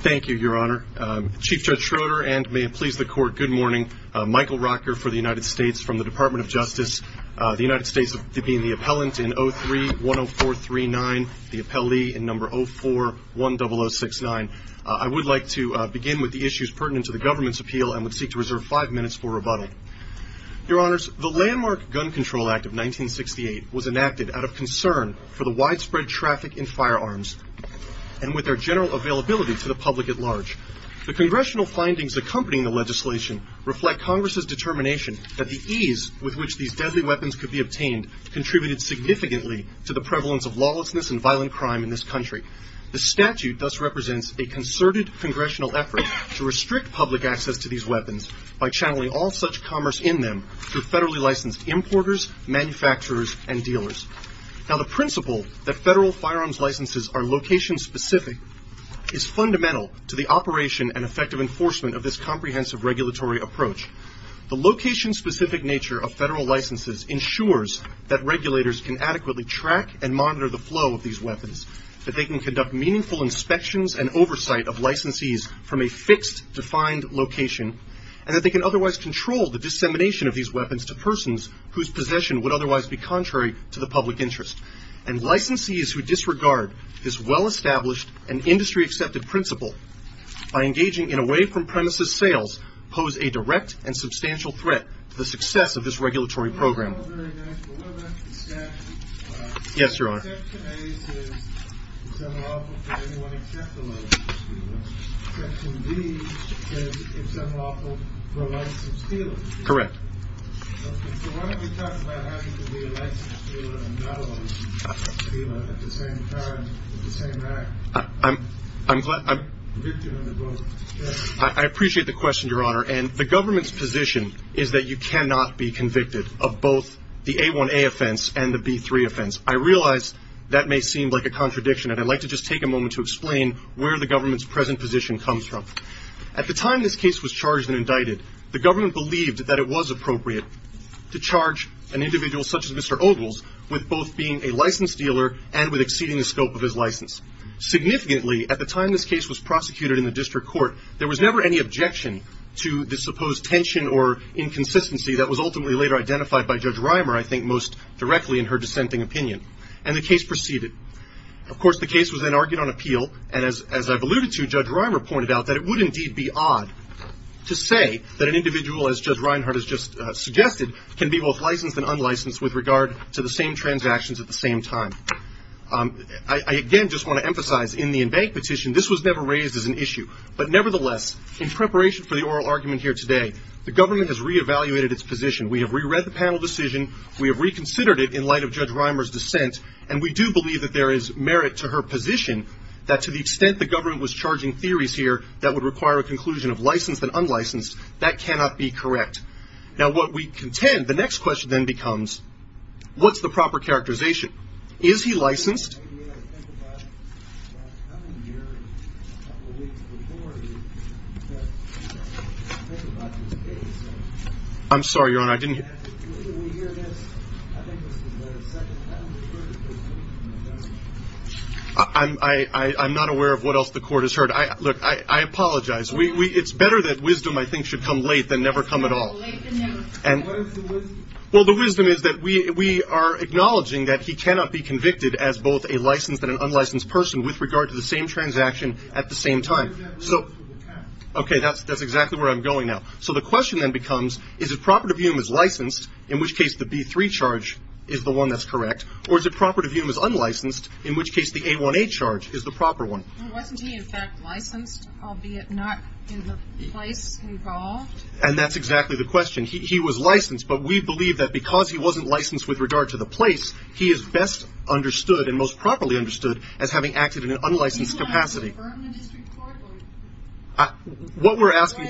Thank you, Your Honor. Chief Judge Schroeder and may it please the Court, good morning. Michael Rocker for the United States from the Department of Justice. The United States in 03-10439, the appellee in number 04-10069. I would like to begin with the issues pertinent to the government's appeal and would seek to reserve five minutes for rebuttal. Your Honors, the landmark Gun Control Act of 1968 was enacted out of concern for the widespread traffic in firearms and with their general availability to the public at large. The Congressional findings accompanying the legislation reflect Congress's determination that the ease with which these deadly weapons could be obtained contributed significantly to the prevalence of lawlessness and violent crime in this country. The statute thus represents a concerted Congressional effort to restrict public access to these weapons by channeling all such commerce in them through federally licensed importers, manufacturers, and dealers. Now, the principle that federal firearms licenses are location-specific is fundamental to the of federal licenses ensures that regulators can adequately track and monitor the flow of these weapons, that they can conduct meaningful inspections and oversight of licensees from a fixed, defined location, and that they can otherwise control the dissemination of these weapons to persons whose possession would otherwise be contrary to the public interest. And licensees who disregard this well-established and industry-accepted principle by engaging in away-from-premises sales pose a direct and substantial threat to the success of this regulatory program. Yes, Your Honor. Section A says it's unlawful for anyone except a licensed dealer. Section B says it's unlawful for a licensed dealer. Correct. So why don't we talk about having to be a licensed dealer and not a licensed dealer at the same time, at the same time? I'm glad I'm... I appreciate the question, Your Honor. And the government's position is that you cannot be convicted of both the A1A offense and the B3 offense. I realize that may seem like a contradiction, and I'd like to just take a moment to explain where the government's present position comes from. At the time this case was charged and indicted, the government believed that it was appropriate to charge an individual such as Mr. Ogles with both being a licensed dealer and with exceeding the scope of his license. Significantly, at the time this case was prosecuted in the district court, there was never any objection to the supposed tension or inconsistency that was ultimately later identified by Judge Reimer, I think most directly in her dissenting opinion. And the case proceeded. Of course, the case was then argued on appeal, and as I've alluded to, Judge Reimer pointed out that it would indeed be odd to say that an individual, as Judge Reinhart has just suggested, can be both licensed and unlicensed with regard to the same transactions at the same time. I again just want to emphasize in the in-bank petition, this was never raised as an issue. But nevertheless, in preparation for the oral argument here today, the government has re-evaluated its position. We have re-read the panel decision, we have reconsidered it in light of Judge Reimer's dissent, and we do believe that there is merit to her position that to the extent the government was charging theories here that would require a conclusion of licensed and unlicensed, that cannot be correct. Now what we contend, the next question then becomes, what's the proper characterization? Is he licensed? I'm sorry, Your Honor, I didn't hear. I'm not aware of what else the court has heard. Look, I apologize. It's better that wisdom, I think, should come late than never come at all. Well, the wisdom is that we are acknowledging that he can be unlicensed, and he cannot be convicted as both a licensed and an unlicensed person with regard to the same transaction at the same time. Okay, that's exactly where I'm going now. So the question then becomes, is it proper to view him as licensed, in which case the B3 charge is the one that's correct, or is it proper to view him as unlicensed, in which case the A1A charge is the proper one? Wasn't he in fact licensed, albeit not in the place involved? And that's exactly the question. He was licensed, but we believe that because he wasn't licensed with regard to the place, he is best understood and most properly understood as having acted in an unlicensed capacity. What we're asking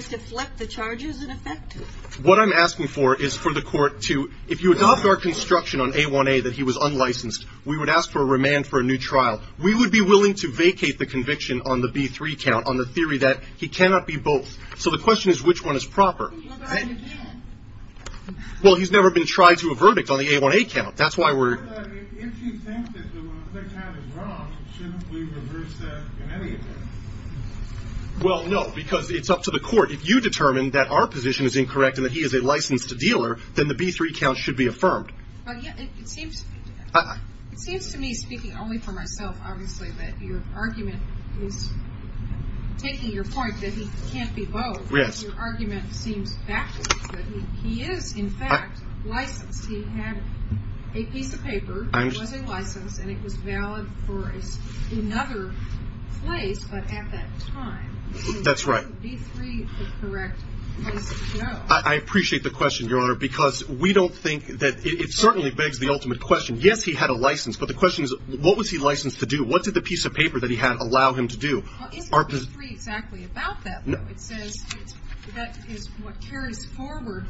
for is for the court to, if you adopt our construction on A1A that he was unlicensed, we would ask for a remand for a new trial. We would be willing to vacate the conviction on the B3 count on the theory that he cannot be both. So the question is, which one is proper? Well, he's never been tried to a verdict on the A1A count. That's why we're... If you think that the A1A count is wrong, shouldn't we reverse that in any event? Well, no, because it's up to the court. If you determine that our position is incorrect and that he is a licensed dealer, then the B3 count should be affirmed. It seems to me, speaking only for myself, obviously, that your argument is taking your point that he can't be both. Yes. Your argument seems factious, that he is, in fact, licensed. He had a piece of paper that was a license, and it was valid for another place, but at that time. That's right. Why would B3 be the correct place to go? I appreciate the question, Your Honor, because we don't think that... It certainly begs the ultimate question. Yes, he had a license, but the question is, what was he licensed to do? What did the piece of paper that he had allow him to do? Well, isn't B3 exactly about that? No. It says that is what carries forward,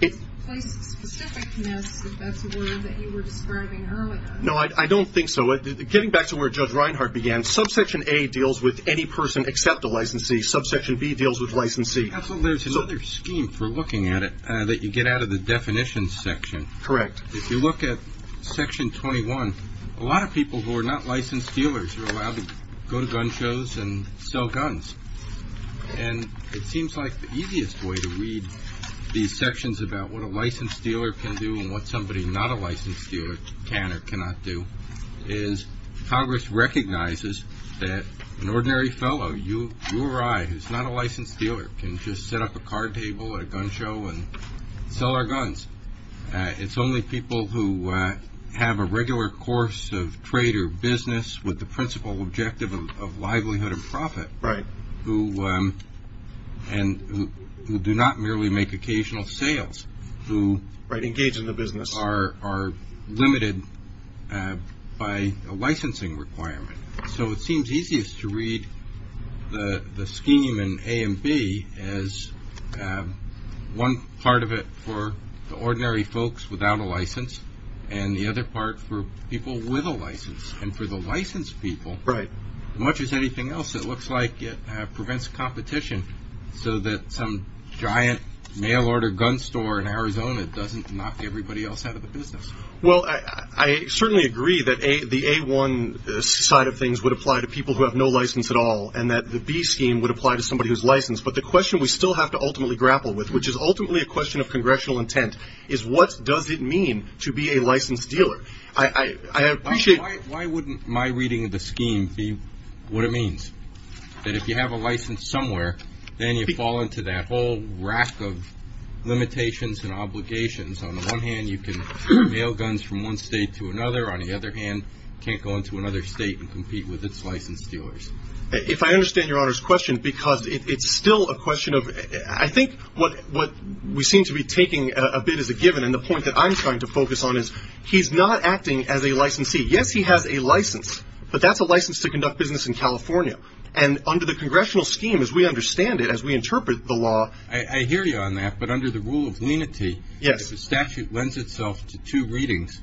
place of specificness, if that's a word that you were describing earlier. No, I don't think so. Getting back to where Judge Reinhart began, subsection A deals with any person except a licensee. Subsection B deals with licensee. Counsel, there's another scheme, if we're looking at it, that you get out of the definitions section. Correct. If you look at section 21, a lot of people who are not licensed dealers are allowed to go to gun shows and sell guns. And it seems like the easiest way to read these sections about what a licensed dealer can do and what somebody not a licensed dealer can or cannot do is Congress recognizes that an ordinary fellow, you or I, who's not a licensed dealer, can just set up a card table at a gun show and sell our guns. It's only people who have a regular course of trade or business with the principal objective of livelihood and profit. Right. Who do not merely make occasional sales. Right, engage in the business. Who are limited by a licensing requirement. So it seems easiest to read the scheme in A and B as one part of it for the ordinary folks without a license and the other part for people with a license. And for the licensed people, as much as anything else, it looks like it prevents competition so that some giant mail order gun store in Arizona doesn't knock everybody else out of the business. Well, I certainly agree that the A-1 side of things would apply to people who have no license at all and that the B scheme would apply to somebody who's licensed. But the question we still have to ultimately grapple with, which is ultimately a question of congressional intent, is what does it mean to be a licensed dealer? I appreciate. Why wouldn't my reading of the scheme be what it means? That if you have a license somewhere, then you fall into that whole rack of limitations and obligations. On the one hand, you can mail guns from one state to another. On the other hand, you can't go into another state and compete with its licensed dealers. If I understand Your Honor's question, because it's still a question of, I think what we seem to be taking a bit as a given and the point that I'm trying to focus on is he's not acting as a licensee. Yes, he has a license, but that's a license to conduct business in California. And under the congressional scheme, as we understand it, as we interpret the law. Well, I hear you on that, but under the rule of lenity, if the statute lends itself to two readings,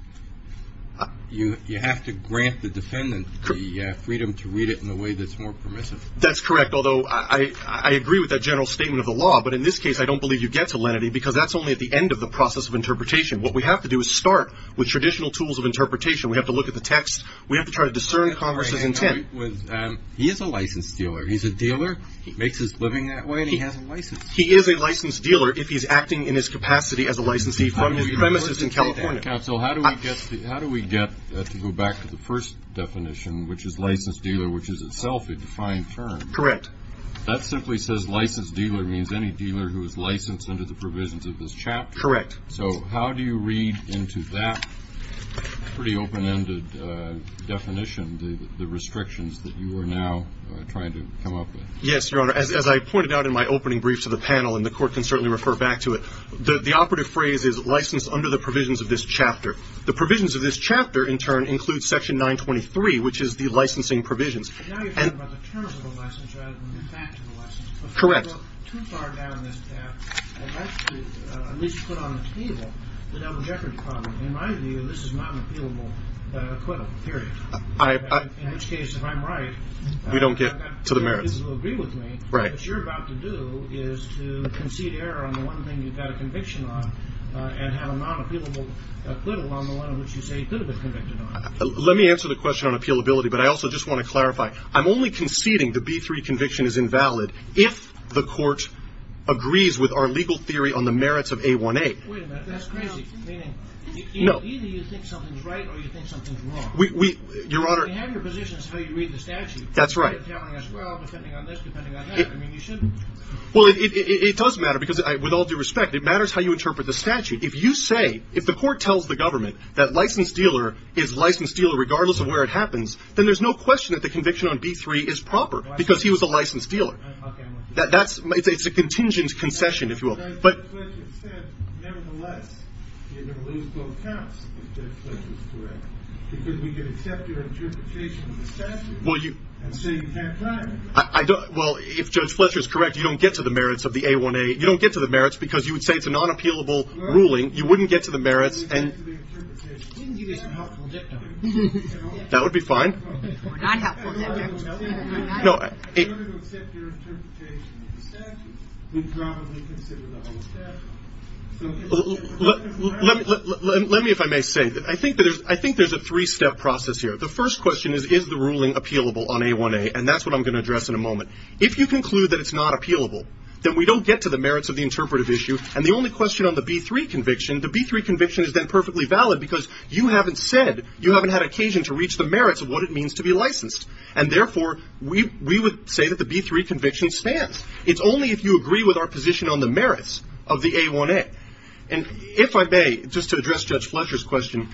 you have to grant the defendant the freedom to read it in a way that's more permissive. That's correct, although I agree with that general statement of the law. But in this case, I don't believe you get to lenity because that's only at the end of the process of interpretation. What we have to do is start with traditional tools of interpretation. We have to look at the text. We have to try to discern Congress's intent. He is a licensed dealer. He's a dealer. He makes his living that way, and he has a license. He is a licensed dealer if he's acting in his capacity as a licensee from his premises in California. Counsel, how do we get to go back to the first definition, which is licensed dealer, which is itself a defined term? Correct. That simply says licensed dealer means any dealer who is licensed under the provisions of this chapter. Correct. So how do you read into that pretty open-ended definition the restrictions that you are now trying to come up with? Yes, Your Honor. As I pointed out in my opening briefs of the panel, and the Court can certainly refer back to it, the operative phrase is licensed under the provisions of this chapter. The provisions of this chapter, in turn, include Section 923, which is the licensing provisions. And now you're talking about the terms of the license rather than the fact of the license. Correct. But if you go too far down this path, I'd like to at least put on the table the double-decker problem. In my view, this is not an appealable equivalent, period. In which case, if I'm right, I've got to get to the merits. If you agree with me, what you're about to do is to concede error on the one thing you've got a conviction on and have a non-appealable acquittal on the one in which you say you could have been convicted on. Let me answer the question on appealability, but I also just want to clarify. I'm only conceding the B-3 conviction is invalid if the Court agrees with our legal theory on the merits of A-1A. Wait a minute. That's crazy. Meaning either you think something's right or you think something's wrong. Your Honor. You have your positions how you read the statute. That's right. Well, depending on this, depending on that. I mean, you shouldn't. Well, it does matter, because with all due respect, it matters how you interpret the statute. If you say, if the Court tells the government that License Dealer is License Dealer regardless of where it happens, then there's no question that the conviction on B-3 is proper because he was a License Dealer. Okay. It's a contingent concession, if you will. Well, if Judge Fletcher is correct, you don't get to the merits of the A-1A. You don't get to the merits because you would say it's a non-appealable ruling. You wouldn't get to the merits. That would be fine. In order to accept your interpretation of the statute, we'd probably consider the whole statute. Let me, if I may say, I think there's a three-step process here. The first question is, is the ruling appealable on A-1A, and that's what I'm going to address in a moment. If you conclude that it's not appealable, then we don't get to the merits of the interpretive issue, and the only question on the B-3 conviction, the B-3 conviction is then perfectly valid because you haven't said, you haven't had occasion to reach the merits of what it means to be licensed. And therefore, we would say that the B-3 conviction stands. It's only if you agree with our position on the merits of the A-1A. And if I may, just to address Judge Fletcher's question.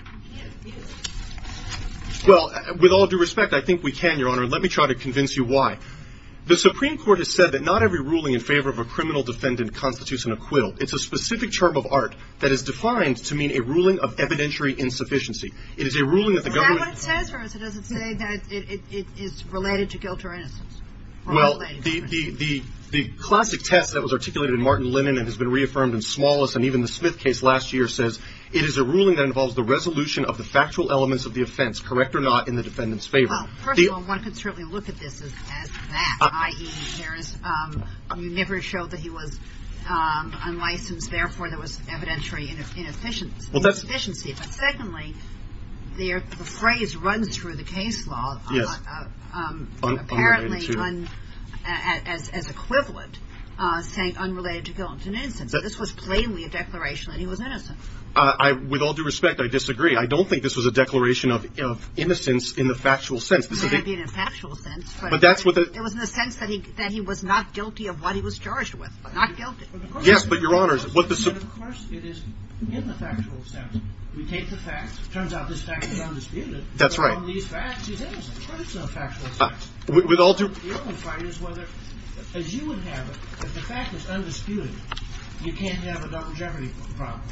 Well, with all due respect, I think we can, Your Honor, and let me try to convince you why. The Supreme Court has said that not every ruling in favor of a criminal defendant constitutes an acquittal. It's a specific term of art that is defined to mean a ruling of evidentiary insufficiency. It is a ruling that the government. Is that what it says, or does it say that it is related to guilt or innocence? Well, the classic test that was articulated in Martin Lennon and has been reaffirmed in Smallis and even the Smith case last year says it is a ruling that involves the resolution of the factual elements of the offense, correct or not, in the defendant's favor. Well, first of all, one could certainly look at this as that, i.e. You never showed that he was unlicensed. Therefore, there was evidentiary inefficiency. But secondly, the phrase runs through the case law apparently as equivalent, saying unrelated to guilt and innocence. This was plainly a declaration that he was innocent. With all due respect, I disagree. I don't think this was a declaration of innocence in the factual sense. It was in the sense that he was not guilty of what he was charged with, but not guilty. Yes, but, Your Honors. Of course, it is in the factual sense. We take the facts. It turns out this fact is undisputed. That's right. With all due respect, the only fight is whether, as you would have it, if the fact is undisputed, you can't have a longevity problem.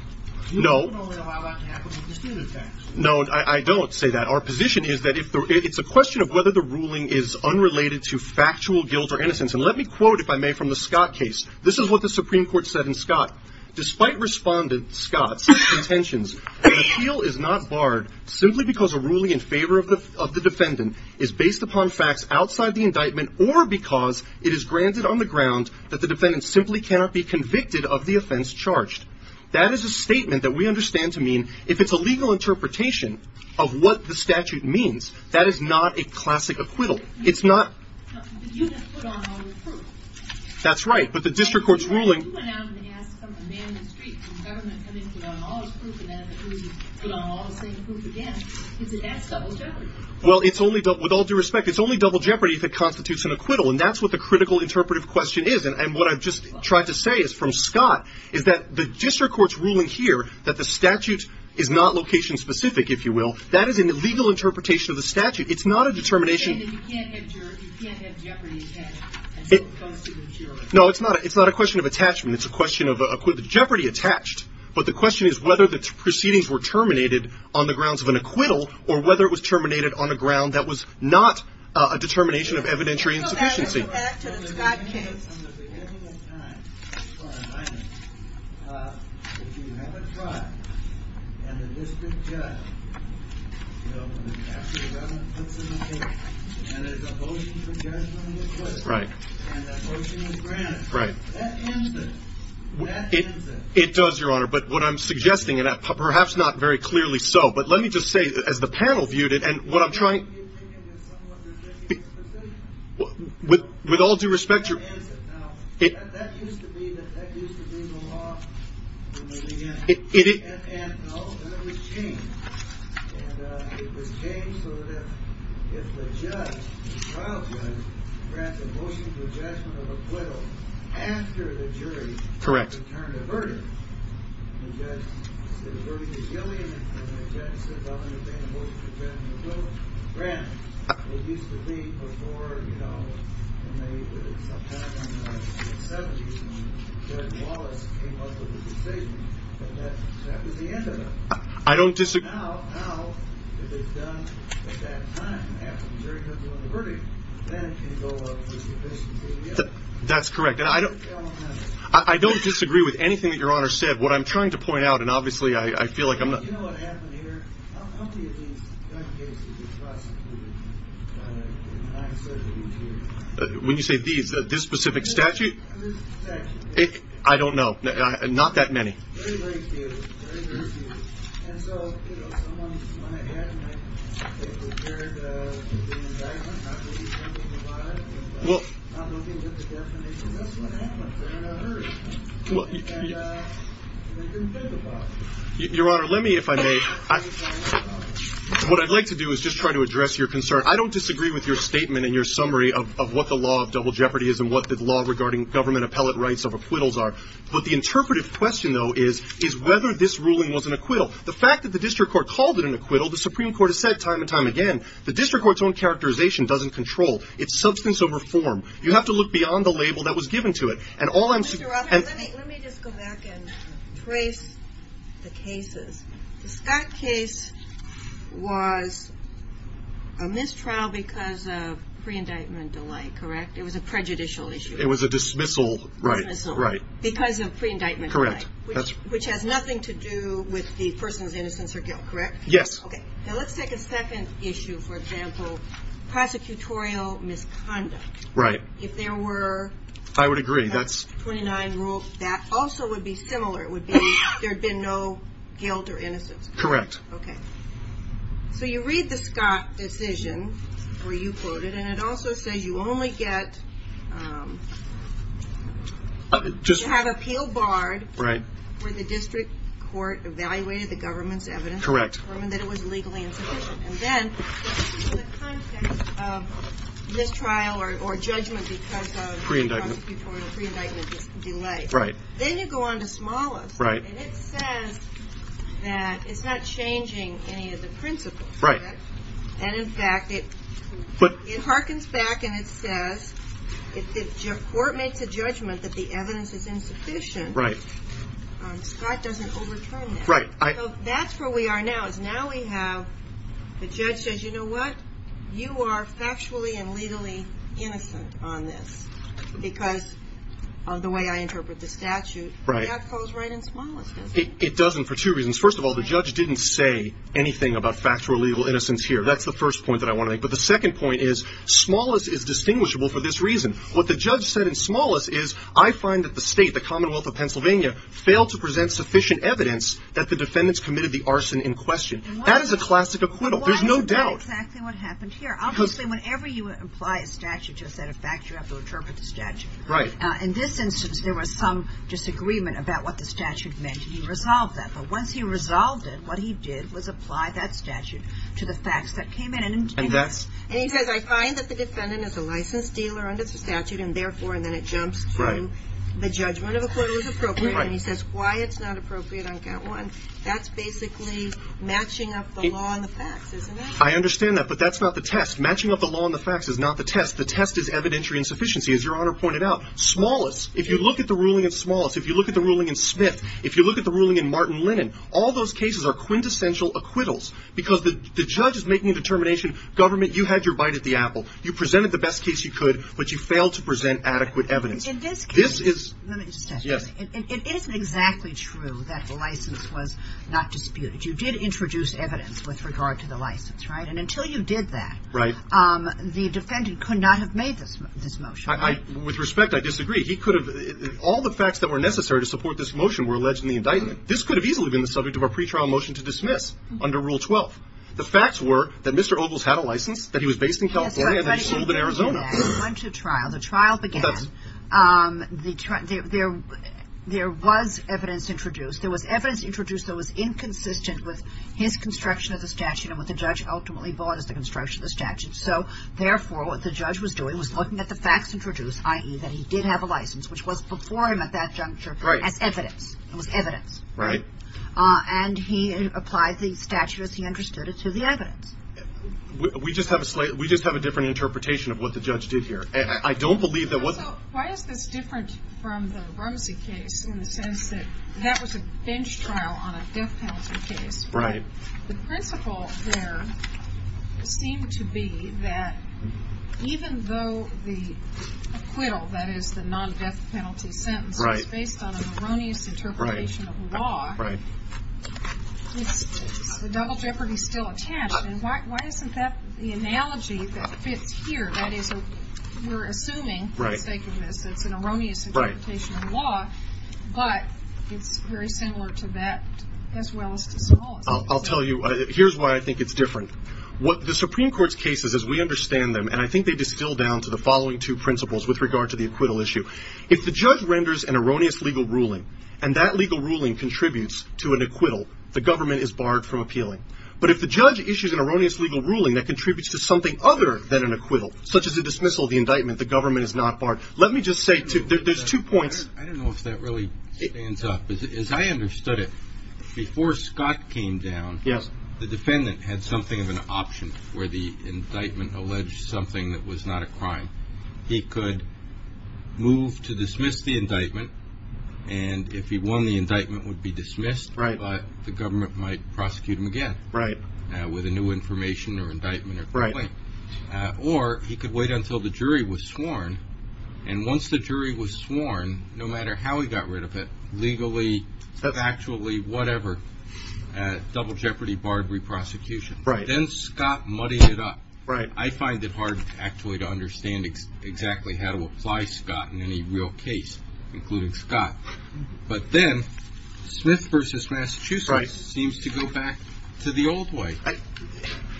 You can only allow that to happen with disputed facts. No, I don't say that. Our position is that it's a question of whether the ruling is unrelated to factual guilt or innocence. And let me quote, if I may, from the Scott case. This is what the Supreme Court said in Scott. Despite Respondent Scott's intentions, an appeal is not barred simply because a ruling in favor of the defendant is based upon facts outside the indictment or because it is granted on the ground that the defendant simply cannot be convicted of the offense charged. That is a statement that we understand to mean, if it's a legal interpretation of what the statute means, that is not a classic acquittal. It's not... But you didn't put on all the proof. That's right. But the district court's ruling... You went out and asked for a man in the street from the government to come in and put on all his proof, and then it was put on all the same proof again. That's double jeopardy. Well, with all due respect, it's only double jeopardy if it constitutes an acquittal. And that's what the critical interpretive question is. And what I've just tried to say is from Scott is that the district court's ruling here that the statute is not location-specific, if you will, that is an illegal interpretation of the statute. It's not a determination... No, it's not a question of attachment. It's a question of jeopardy attached. But the question is whether the proceedings were terminated on the grounds of an acquittal or whether it was terminated on the ground that was not a determination of evidentiary insufficiency. To add to the Scott case... It does, Your Honor, but what I'm suggesting, and perhaps not very clearly so, but let me just say as the panel viewed it and what I'm trying... With all due respect... It... Correct. It used to be before, you know, sometime in the 70s when Derek Wallace came up with the decision, but that was the end of it. I don't disagree... Now, if it's done at that time, after the jury has won the verdict, then it can go up to the deficiency again. That's correct. And I don't... I don't disagree with anything that Your Honor said. What I'm trying to point out, and obviously I feel like I'm not... You know what happened here? When you say these, this specific statute? I don't know. Not that many. Well... Well... Your Honor, let me, if I may... What I'd like to do is just try to address your concern. I don't disagree with your statement and your summary of what the law of double jeopardy is and what the law regarding government appellate rights of acquittals are. But the interpretive question, though, is whether this ruling was an acquittal. The fact that the district court called it an acquittal, the Supreme Court has said time and time again, the district court's own characterization doesn't control. It's substance over form. You have to look beyond the label that was given to it. Let me just go back and trace the cases. The Scott case was a mistrial because of pre-indictment delay, correct? It was a prejudicial issue. It was a dismissal. Right. Because of pre-indictment delay. Correct. Which has nothing to do with the person's innocence or guilt, correct? Yes. Okay. Now let's take a second issue, for example, prosecutorial misconduct. Right. If there were... I would agree. ...29 rules, that also would be similar. It would be there had been no guilt or innocence. Correct. Okay. So you read the Scott decision, where you quote it, and it also says you only get... You have appeal barred... Right. ...where the district court evaluated the government's evidence... Correct. ...and determined that it was legally insufficient. And then, in the context of mistrial or judgment because of... Pre-indictment. ...the prosecutorial pre-indictment delay. Right. Then you go on to smallest. Right. And it says that it's not changing any of the principles. Right. And, in fact, it... But... ...it harkens back and it says, if the court makes a judgment that the evidence is insufficient... Right. ...Scott doesn't overturn that. Right. So that's where we are now, is now we have the judge says, you know what? You are factually and legally innocent on this because of the way I interpret the statute. Right. That falls right in smallest, doesn't it? It doesn't for two reasons. First of all, the judge didn't say anything about factual or legal innocence here. That's the first point that I want to make. But the second point is smallest is distinguishable for this reason. What the judge said in smallest is, I find that the state, the Commonwealth of Pennsylvania, failed to present sufficient evidence that the defendants committed the arson in question. That is a classic acquittal. There's no doubt. And why is that exactly what happened here? Because... Obviously, whenever you apply a statute to a set of facts, you have to interpret the statute. Right. In this instance, there was some disagreement about what the statute meant, and he resolved that. But once he resolved it, what he did was apply that statute to the facts that came in. And that's... And he says, I find that the defendant is a licensed dealer under the statute, and, therefore, and then it jumps to the judgment of acquittal is appropriate. Right. And he says why it's not appropriate on count one. That's basically matching up the law and the facts, isn't it? I understand that, but that's not the test. Matching up the law and the facts is not the test. The test is evidentiary insufficiency, as Your Honor pointed out. Smallest, if you look at the ruling in smallest, if you look at the ruling in Smith, if you look at the ruling in Martin Linnan, all those cases are quintessential acquittals because the judge is making a determination, government, you had your bite at the apple. You presented the best case you could, but you failed to present adequate evidence. In this case... This is... Let me just add something. Yes. It isn't exactly true that the license was not disputed. You did introduce evidence with regard to the license, right? And until you did that... Right. ...the defendant could not have made this motion, right? With respect, I disagree. He could have... All the facts that were necessary to support this motion were alleged in the indictment. This could have easily been the subject of a pretrial motion to dismiss under Rule 12. The facts were that Mr. Ogles had a license, that he was based in California... That's right, but he didn't do that. ...and that he served in Arizona. He went to trial. The trial began. Well, that's... There was evidence introduced. There was evidence introduced that was inconsistent with his construction of the statute and what the judge ultimately bought as the construction of the statute. So, therefore, what the judge was doing was looking at the facts introduced, i.e., that he did have a license, which was before him at that juncture... Right. ...as evidence. It was evidence. Right. And he applied the statute as he understood it to the evidence. We just have a different interpretation of what the judge did here. I don't believe that what... Also, why is this different from the Rumsey case in the sense that that was a bench trial on a death penalty case? Right. The principle there seemed to be that even though the acquittal, that is, the non-death penalty sentence... Right. ...was based on an erroneous interpretation of law... Right. ...the double jeopardy is still attached. And why isn't that the analogy that fits here? That is, we're assuming... Right. ...for the sake of this, it's an erroneous interpretation of law... Right. ...but it's very similar to that as well as to some others. I'll tell you. Here's why I think it's different. The Supreme Court's cases, as we understand them, and I think they distill down to the following two principles with regard to the acquittal issue. If the judge renders an erroneous legal ruling and that legal ruling contributes to an acquittal, the government is barred from appealing. But if the judge issues an erroneous legal ruling that contributes to something other than an acquittal, such as a dismissal of the indictment, the government is not barred. Let me just say there's two points. I don't know if that really stands up. As I understood it, before Scott came down... Yes. ...the defendant had something of an option where the indictment alleged something that was not a crime. He could move to dismiss the indictment, and if he won, the indictment would be dismissed... Right. ...but the government might prosecute him again... Right. ...with a new information or indictment or claim. Right. Or he could wait until the jury was sworn, and once the jury was sworn, no matter how he got rid of it, legally, actually, whatever, double jeopardy, barred re-prosecution. Right. Then Scott muddied it up. Right. I find it hard, actually, to understand exactly how to apply Scott in any real case, including Scott. But then Smith v. Massachusetts seems to go back to the old way. Right.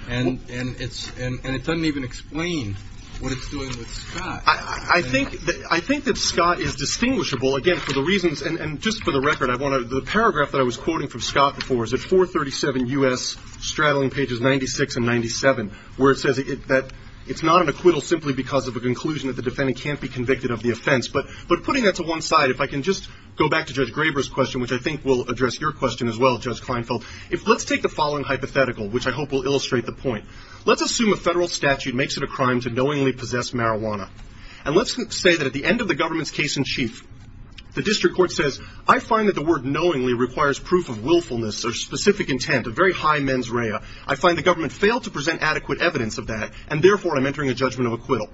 And it doesn't even explain what it's doing with Scott. I think that Scott is distinguishable, again, for the reasons, and just for the record, the paragraph that I was quoting from Scott before is at 437 U.S., straddling pages 96 and 97, where it says that it's not an acquittal simply because of a conclusion that the defendant can't be convicted of the offense. But putting that to one side, if I can just go back to Judge Graber's question, which I think will address your question as well, Judge Kleinfeld, let's take the following hypothetical, which I hope will illustrate the point. Let's assume a federal statute makes it a crime to knowingly possess marijuana. And let's say that at the end of the government's case in chief, the district court says, I find that the word knowingly requires proof of willfulness or specific intent, a very high mens rea. I find the government failed to present adequate evidence of that, and therefore I'm entering a judgment of acquittal.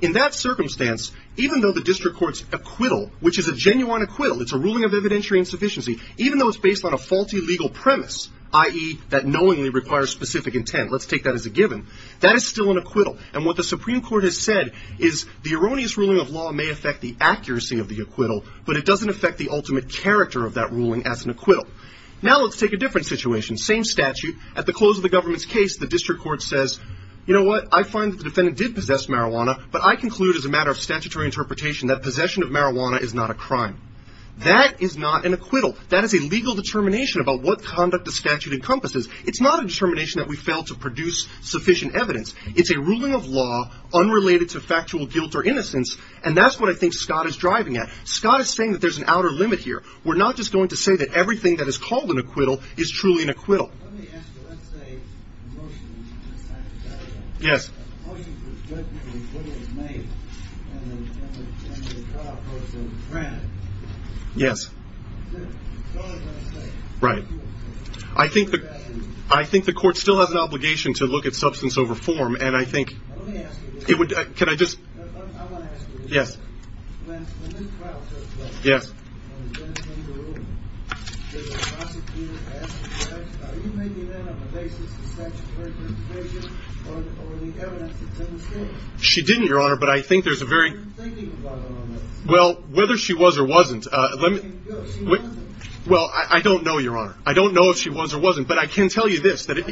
In that circumstance, even though the district court's acquittal, which is a genuine acquittal, it's a ruling of evidentiary insufficiency, even though it's based on a faulty legal premise, i.e., that knowingly requires specific intent, let's take that as a given, that is still an acquittal. And what the Supreme Court has said is the erroneous ruling of law may affect the accuracy of the acquittal, but it doesn't affect the ultimate character of that ruling as an acquittal. Now let's take a different situation, same statute, at the close of the government's case, the district court says, you know what, I find that the defendant did possess marijuana, but I conclude as a matter of statutory interpretation that possession of marijuana is not a crime. That is not an acquittal. That is a legal determination about what conduct the statute encompasses. It's not a determination that we failed to produce sufficient evidence. It's a ruling of law unrelated to factual guilt or innocence, and that's what I think Scott is driving at. Scott is saying that there's an outer limit here. We're not just going to say that everything that is called an acquittal is truly an acquittal. Let me ask you, let's say a motion is passed. Yes. A motion for judgment and acquittal is made, and then the trial court is in a trance. Yes. The trial court is in a trance. Right. I think the court still has an obligation to look at substance over form, and I think Let me ask you this. Can I just I want to ask you this. Yes. Yes. She didn't, Your Honor, but I think there's a very Well, whether she was or wasn't Well, I don't know, Your Honor. I don't know if she was or wasn't, but I can tell you this. If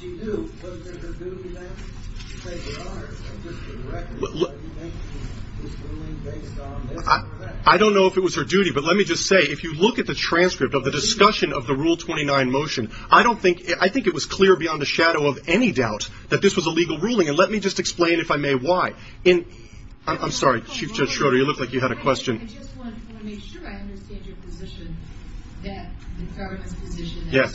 she knew, wasn't it her duty to say, Your Honor, it's just a record. This ruling is based on this fact. I don't know if it was her duty, but let me just say, if you look at the transcript of the discussion of the Rule 29 motion, I think it was clear beyond a shadow of any doubt that this was a legal ruling, and let me just explain, if I may, why. I'm sorry, Chief Judge Schroeder, you looked like you had a question. I just want to make sure I understand your position that, in Farron's position, that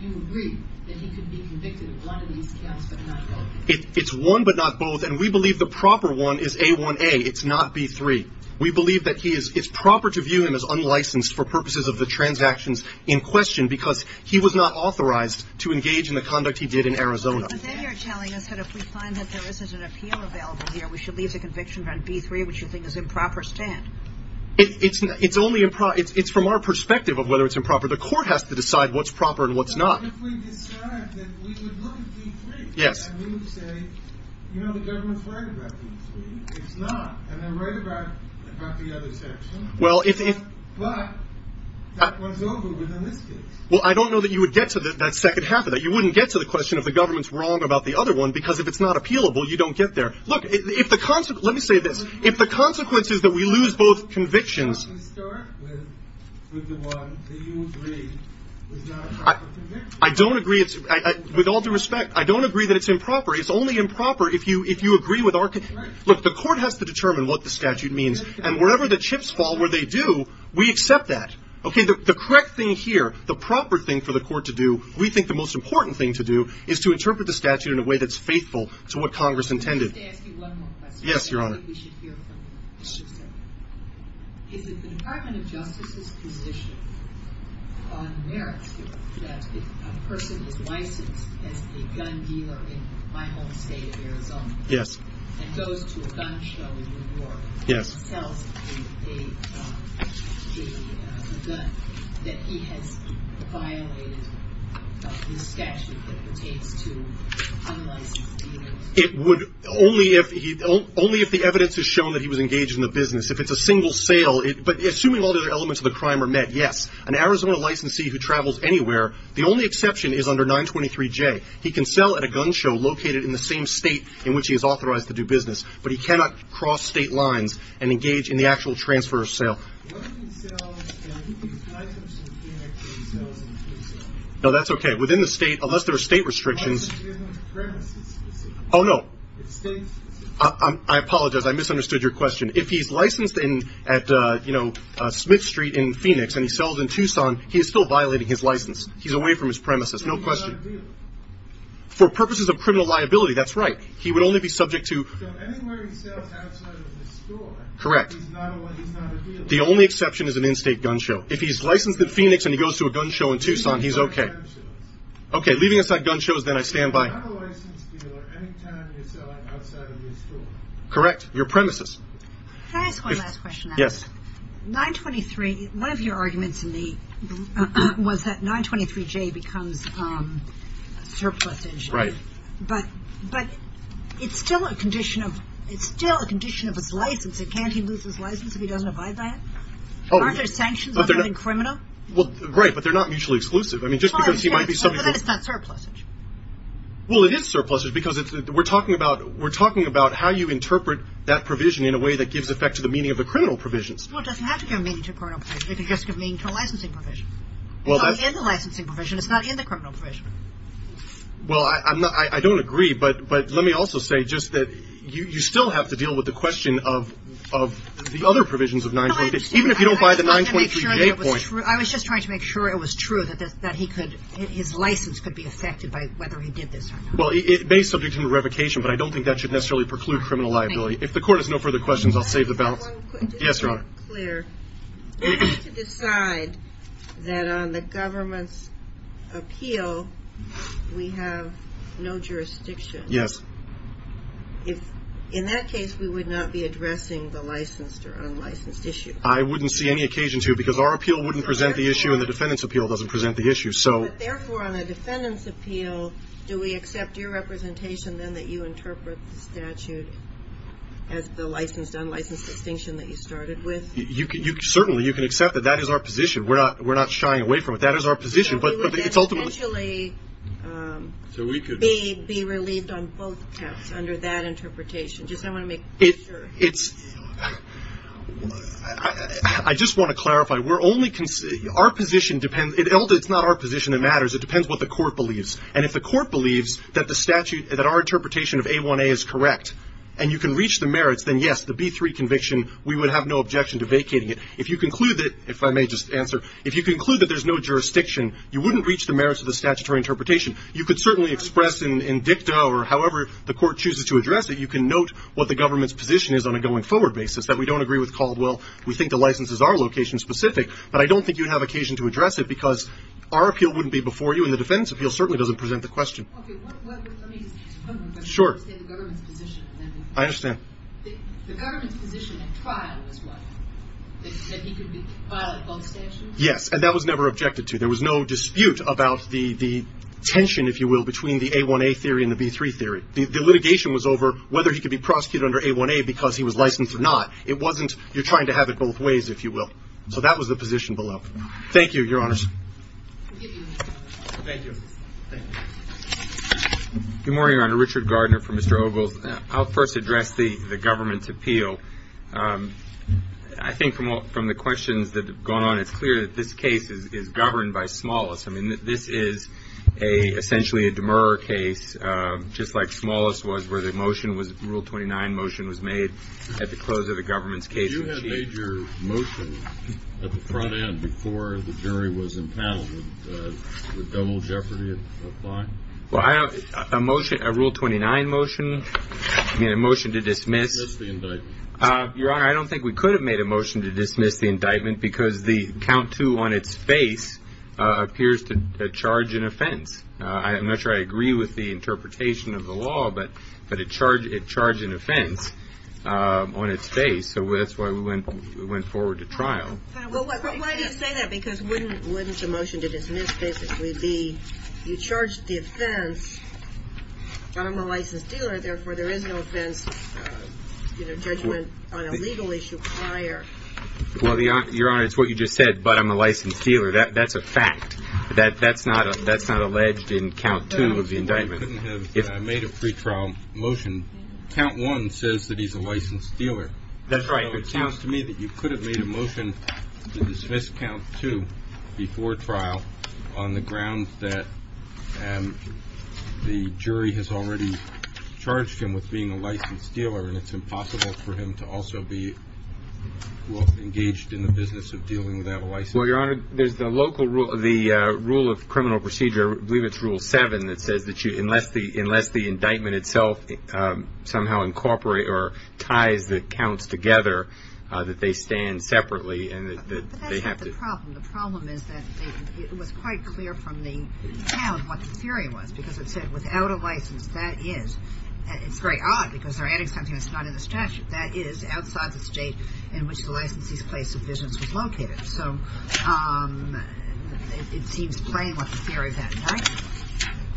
you agree that he could be convicted of one of these counts but not both. It's one but not both, and we believe the proper one is A1A. It's not B3. We believe that it's proper to view him as unlicensed for purposes of the transactions in question because he was not authorized to engage in the conduct he did in Arizona. But then you're telling us that if we find that there isn't an appeal available here, we should leave the conviction on B3, which you think is improper, stand. It's only improper. It's from our perspective of whether it's improper. The court has to decide what's proper and what's not. But if we decide that we would look at B3 and we would say, You know, the government's right about B3. It's not, and they're right about the other section, but that one's over within this case. Well, I don't know that you would get to that second half of that. You wouldn't get to the question of the government's wrong about the other one because if it's not appealable, you don't get there. Look, let me say this. If the consequence is that we lose both convictions, I don't agree with all due respect. I don't agree that it's improper. It's only improper if you agree with our look. The court has to determine what the statute means. And wherever the chips fall, where they do, we accept that. Okay, the correct thing here, the proper thing for the court to do, we think the most important thing to do, is to interpret the statute in a way that's faithful to what Congress intended. Let me just ask you one more question. Yes, Your Honor. I think we should hear from you. Is it the Department of Justice's position on merit that a person is licensed as a gun dealer in my home state of Arizona? Yes. And goes to a gun show in New York. Yes. And sells a gun that he has violated the statute that pertains to unlicensed dealers? Only if the evidence has shown that he was engaged in the business. If it's a single sale, but assuming all the other elements of the crime are met, yes. An Arizona licensee who travels anywhere, the only exception is under 923J. He can sell at a gun show located in the same state in which he is authorized to do business. But he cannot cross state lines and engage in the actual transfer or sale. What if he sells and he's licensed in Phoenix and he sells in Tucson? No, that's okay. Within the state, unless there are state restrictions. Unless there's no premises specific. Oh, no. It's state specific. I apologize. I misunderstood your question. If he's licensed at, you know, Smith Street in Phoenix and he sells in Tucson, he is still violating his license. He's away from his premises. No question. And he's not a dealer. For purposes of criminal liability, that's right. He would only be subject to. So anywhere he sells outside of the store. Correct. He's not a dealer. The only exception is an in-state gun show. If he's licensed in Phoenix and he goes to a gun show in Tucson, he's okay. Leaving aside gun shows. Okay. Leaving aside gun shows, then I stand by. He's not a licensed dealer anytime he's selling outside of his store. Correct. Your premises. Can I ask one last question? Yes. 923, one of your arguments in the, was that 923J becomes surplusage. Right. But it's still a condition of, it's still a condition of his license. Can't he lose his license if he doesn't abide by it? Aren't there sanctions other than criminal? Well, great, but they're not mutually exclusive. I mean, just because he might be subject to. But that's not surplusage. Well, it is surplusage because we're talking about how you interpret that provision in a way that gives effect to the meaning of the criminal provisions. Well, it doesn't have to give meaning to criminal provisions. It can just give meaning to a licensing provision. It's not in the licensing provision. It's not in the criminal provision. Well, I don't agree, but let me also say just that you still have to deal with the question of the other provisions of 923, even if you don't buy the 923J point. I was just trying to make sure it was true that his license could be affected by whether he did this or not. Well, it may subject him to revocation, but I don't think that should necessarily preclude criminal liability. If the Court has no further questions, I'll save the balance. Yes, Your Honor. Just to be clear, we have to decide that on the government's appeal we have no jurisdiction. Yes. In that case, we would not be addressing the licensed or unlicensed issue. I wouldn't see any occasion to because our appeal wouldn't present the issue and the defendant's appeal doesn't present the issue. Therefore, on the defendant's appeal, do we accept your representation then that you interpret the statute as the licensed-unlicensed distinction that you started with? Certainly. You can accept that that is our position. We're not shying away from it. That is our position, but it's ultimately — We would then potentially be relieved on both counts under that interpretation. Just I want to make sure. It's — I just want to clarify. We're only — our position depends — it's not our position that matters. It depends what the Court believes. And if the Court believes that the statute — that our interpretation of A1A is correct and you can reach the merits, then, yes, the B3 conviction, we would have no objection to vacating it. If you conclude that — if I may just answer. If you conclude that there's no jurisdiction, you wouldn't reach the merits of the statutory interpretation. You could certainly express in dicta or however the Court chooses to address it. You can note what the government's position is on a going-forward basis, that we don't agree with Caldwell. We think the licenses are location-specific. But I don't think you'd have occasion to address it because our appeal wouldn't be before you, and the defendant's appeal certainly doesn't present the question. Okay. Let me just — one more question. Sure. You said the government's position. I understand. The government's position at trial was what? That he could be — file both statutes? Yes. And that was never objected to. There was no dispute about the tension, if you will, between the A1A theory and the B3 theory. The litigation was over whether he could be prosecuted under A1A because he was licensed or not. It wasn't — you're trying to have it both ways, if you will. So that was the position below. Thank you, Your Honors. Thank you. Thank you. Good morning, Your Honor. Richard Gardner for Mr. Ogles. I'll first address the government's appeal. I think from the questions that have gone on, it's clear that this case is governed by smallest. I mean, this is essentially a demer case, just like smallest was, where the motion was — Rule 29 motion was made at the close of the government's case. But you had made your motion at the front end before the jury was impounded with double jeopardy of lying? Well, I don't — a motion — a Rule 29 motion, I mean, a motion to dismiss — Dismiss the indictment. Your Honor, I don't think we could have made a motion to dismiss the indictment because the count to on its face appears to charge an offense. I'm not sure I agree with the interpretation of the law, but it charged an offense on its face. So that's why we went forward to trial. Well, why do you say that? Because wouldn't a motion to dismiss basically be you charged the offense, but I'm a licensed dealer, therefore there is no offense, you know, judgment on a legal issue prior? Well, Your Honor, it's what you just said, but I'm a licensed dealer. That's a fact. That's not alleged in count two of the indictment. I made a pretrial motion. Count one says that he's a licensed dealer. That's right. So it sounds to me that you could have made a motion to dismiss count two before trial on the grounds that the jury has already charged him with being a licensed dealer and it's impossible for him to also be engaged in the business of dealing without a license. Well, Your Honor, there's the local rule of the rule of criminal procedure. I believe it's rule seven that says that you unless the unless the indictment itself somehow incorporate or ties the counts together that they stand separately and that they have to. That's not the problem. The problem is that it was quite clear from the count what the theory was because it said without a license that is. It's very odd because they're adding something that's not in the statute. That is outside the state in which the licensee's place of business was located. So it seems plain what the theory is, right?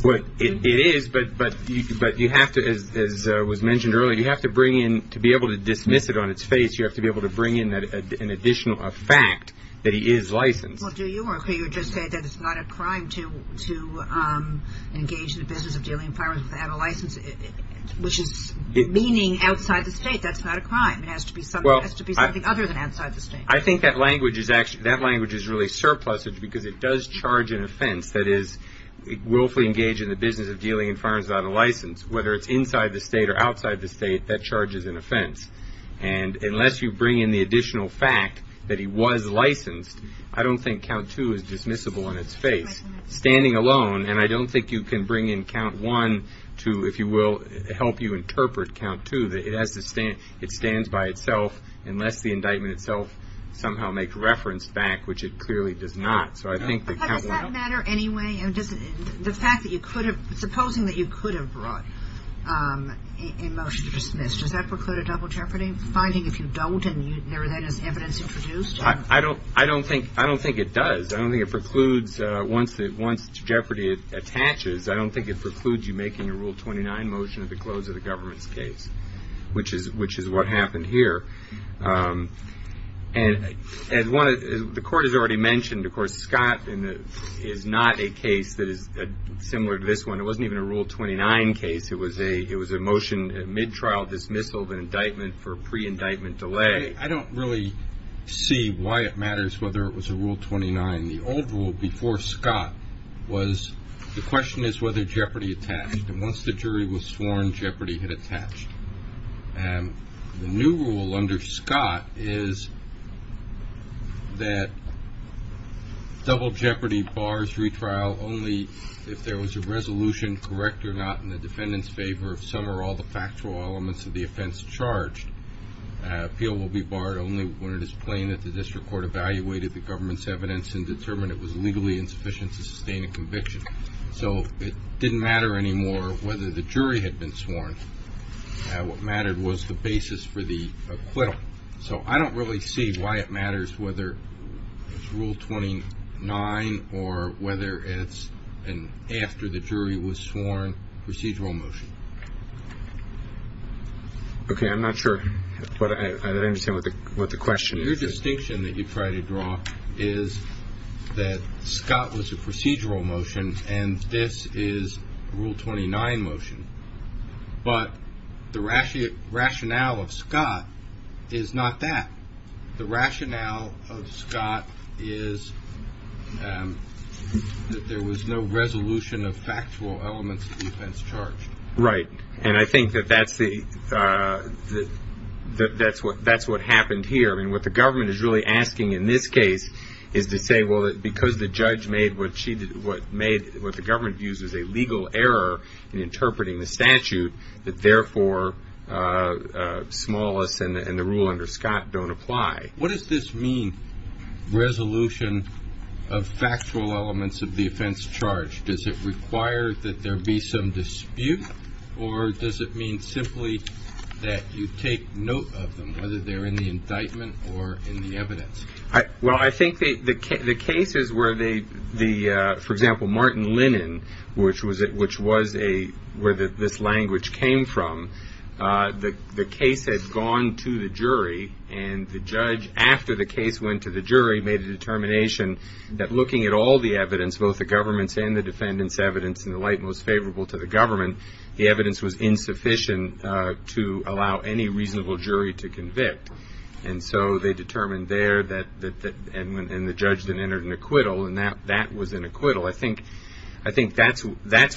Well, it is. But you have to, as was mentioned earlier, you have to bring in to be able to dismiss it on its face. You have to be able to bring in an additional fact that he is licensed. Well, do you agree or just say that it's not a crime to engage in the business of dealing firearms without a license, which is meaning outside the state. That's not a crime. It has to be something. It has to be something other than outside the state. I think that language is really surplusage because it does charge an offense. That is, willfully engage in the business of dealing in firearms without a license, whether it's inside the state or outside the state, that charges an offense. And unless you bring in the additional fact that he was licensed, I don't think count two is dismissible on its face. Standing alone, and I don't think you can bring in count one to, if you will, help you interpret count two. It stands by itself unless the indictment itself somehow makes reference back, which it clearly does not. So I think that count one. But does that matter anyway? The fact that you could have, supposing that you could have brought a motion to dismiss, does that preclude a double jeopardy? Finding if you don't and there is evidence introduced? I don't think it does. I don't think it precludes once jeopardy attaches. I don't think it precludes you making a Rule 29 motion at the close of the government's case, which is what happened here. And the court has already mentioned, of course, Scott is not a case that is similar to this one. It wasn't even a Rule 29 case. It was a motion at mid-trial dismissal of an indictment for a pre-indictment delay. I don't really see why it matters whether it was a Rule 29. The old rule before Scott was the question is whether jeopardy attached. And once the jury was sworn, jeopardy had attached. The new rule under Scott is that double jeopardy bars retrial only if there was a resolution, correct or not, in the defendant's favor of some or all the factual elements of the offense charged. Appeal will be barred only when it is plain that the district court evaluated the government's evidence and determined it was legally insufficient to sustain a conviction. So it didn't matter anymore whether the jury had been sworn. What mattered was the basis for the acquittal. So I don't really see why it matters whether it's Rule 29 or whether it's an after the jury was sworn procedural motion. Okay. I'm not sure, but I understand what the question is. Your distinction that you try to draw is that Scott was a procedural motion and this is Rule 29 motion. But the rationale of Scott is not that. The rationale of Scott is that there was no resolution of factual elements of the offense charged. Right. And I think that that's what happened here. I mean, what the government is really asking in this case is to say, well, because the judge made what the government views as a legal error in interpreting the statute, that therefore Smallis and the rule under Scott don't apply. What does this mean, resolution of factual elements of the offense charged? Does it require that there be some dispute or does it mean simply that you take note of them, whether they're in the indictment or in the evidence? Well, I think the cases where, for example, Martin Linen, which was where this language came from, the case had gone to the jury and the judge, after the case went to the jury, made a determination that looking at all the evidence, both the government's and the defendant's evidence in the light most favorable to the government, the evidence was insufficient to allow any reasonable jury to convict. And so they determined there and the judge then entered an acquittal, and that was an acquittal. I think that's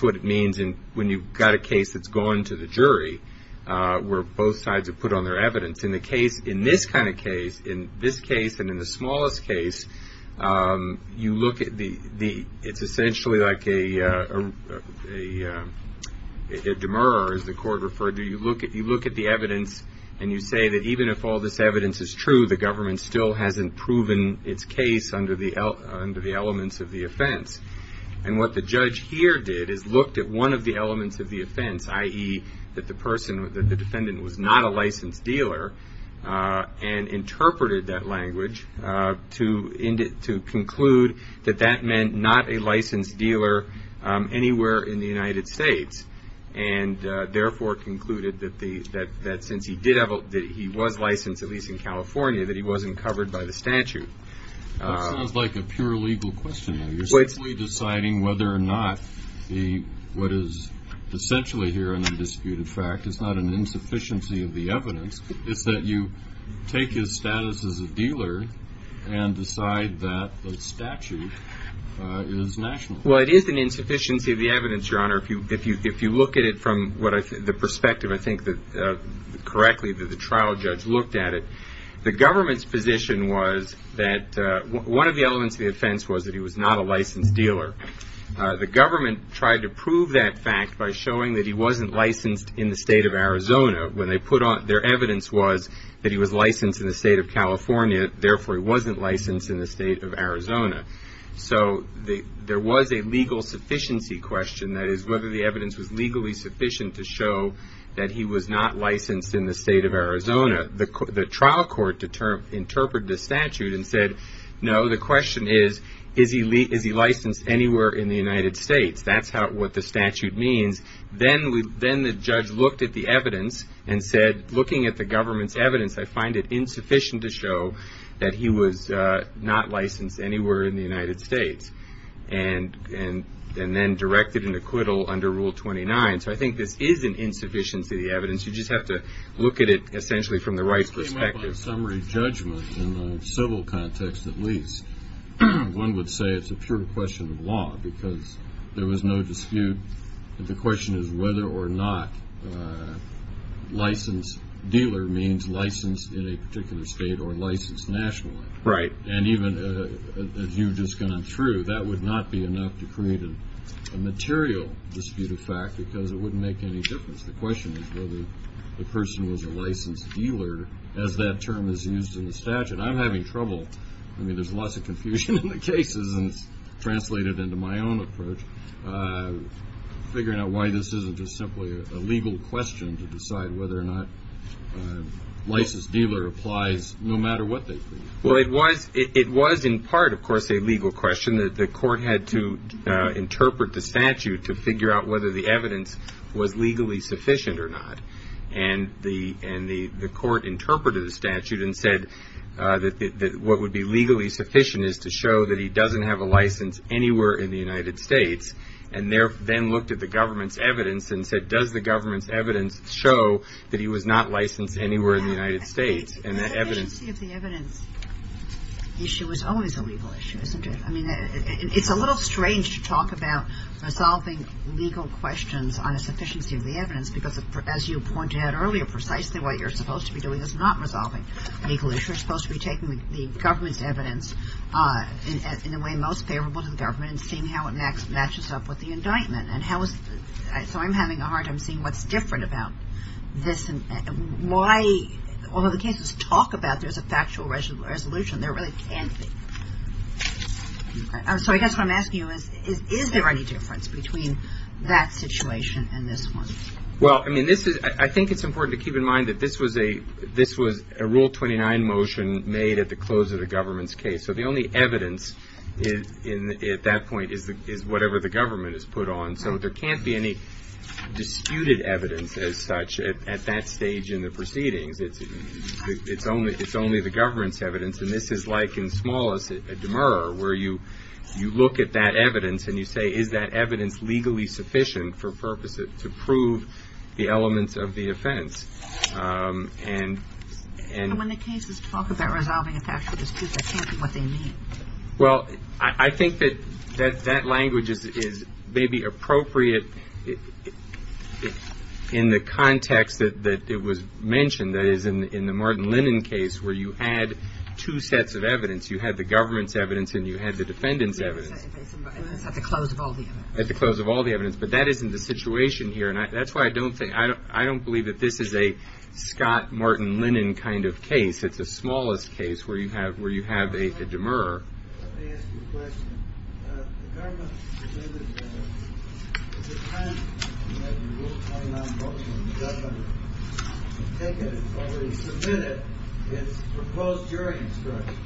what it means when you've got a case that's gone to the jury, where both sides have put on their evidence. In this kind of case, in this case and in the Smallis case, it's essentially like a demurrer, as the court referred to. You look at the evidence and you say that even if all this evidence is true, the government still hasn't proven its case under the elements of the offense. And what the judge here did is looked at one of the elements of the offense, i.e. that the defendant was not a licensed dealer, and interpreted that language to conclude that that meant not a licensed dealer anywhere in the United States, and therefore concluded that since he was licensed, at least in California, that he wasn't covered by the statute. That sounds like a pure legal question. You're simply deciding whether or not what is essentially here an undisputed fact. It's not an insufficiency of the evidence. It's that you take his status as a dealer and decide that the statute is national. Well, it is an insufficiency of the evidence, Your Honor. If you look at it from the perspective, I think, correctly, that the trial judge looked at it, the government's position was that one of the elements of the offense was that he was not a licensed dealer. The government tried to prove that fact by showing that he wasn't licensed in the state of Arizona. Their evidence was that he was licensed in the state of California, therefore he wasn't licensed in the state of Arizona. So there was a legal sufficiency question, that is whether the evidence was legally sufficient to show that he was not licensed in the state of Arizona. The trial court interpreted the statute and said, no, the question is, is he licensed anywhere in the United States? That's what the statute means. Then the judge looked at the evidence and said, looking at the government's evidence, I find it insufficient to show that he was not licensed anywhere in the United States, and then directed an acquittal under Rule 29. So you just have to look at it essentially from the rights perspective. In my summary judgment, in the civil context at least, one would say it's a pure question of law, because there was no dispute that the question is whether or not licensed dealer means licensed in a particular state or licensed nationally. Right. And even as you've just gone through, that would not be enough to create a material dispute of fact, because it wouldn't make any difference. The question is whether the person was a licensed dealer, as that term is used in the statute. I'm having trouble. I mean, there's lots of confusion in the cases, and it's translated into my own approach, figuring out why this isn't just simply a legal question to decide whether or not licensed dealer applies no matter what they think. Well, it was in part, of course, a legal question. The court had to interpret the statute to figure out whether the evidence was legally sufficient or not. And the court interpreted the statute and said that what would be legally sufficient is to show that he doesn't have a license anywhere in the United States, and then looked at the government's evidence and said, does the government's evidence show that he was not licensed anywhere in the United States? The sufficiency of the evidence issue is always a legal issue, isn't it? I mean, it's a little strange to talk about resolving legal questions on a sufficiency of the evidence, because, as you pointed out earlier, precisely what you're supposed to be doing is not resolving legal issues. You're supposed to be taking the government's evidence in a way most favorable to the government and seeing how it matches up with the indictment. So I'm having a hard time seeing what's different about this. And why, although the cases talk about there's a factual resolution, there really can't be. So I guess what I'm asking you is, is there any difference between that situation and this one? Well, I mean, I think it's important to keep in mind that this was a Rule 29 motion made at the close of the government's case. So the only evidence at that point is whatever the government has put on. And so there can't be any disputed evidence as such at that stage in the proceedings. It's only the government's evidence. And this is like in Smallis at Demer where you look at that evidence and you say, is that evidence legally sufficient for purposes to prove the elements of the offense? And when the cases talk about resolving a factual dispute, that can't be what they mean. Well, I think that that language is maybe appropriate in the context that it was mentioned. That is, in the Martin Lennon case where you had two sets of evidence. You had the government's evidence and you had the defendant's evidence. At the close of all the evidence. At the close of all the evidence. But that isn't the situation here. And that's why I don't think, I don't believe that this is a Scott Martin Lennon kind of case. It's a Smallis case where you have a demurrer. Let me ask you a question. The government submitted a motion. Is it time to have the rule 29 motion that the government has taken and has already submitted its proposed jury instruction?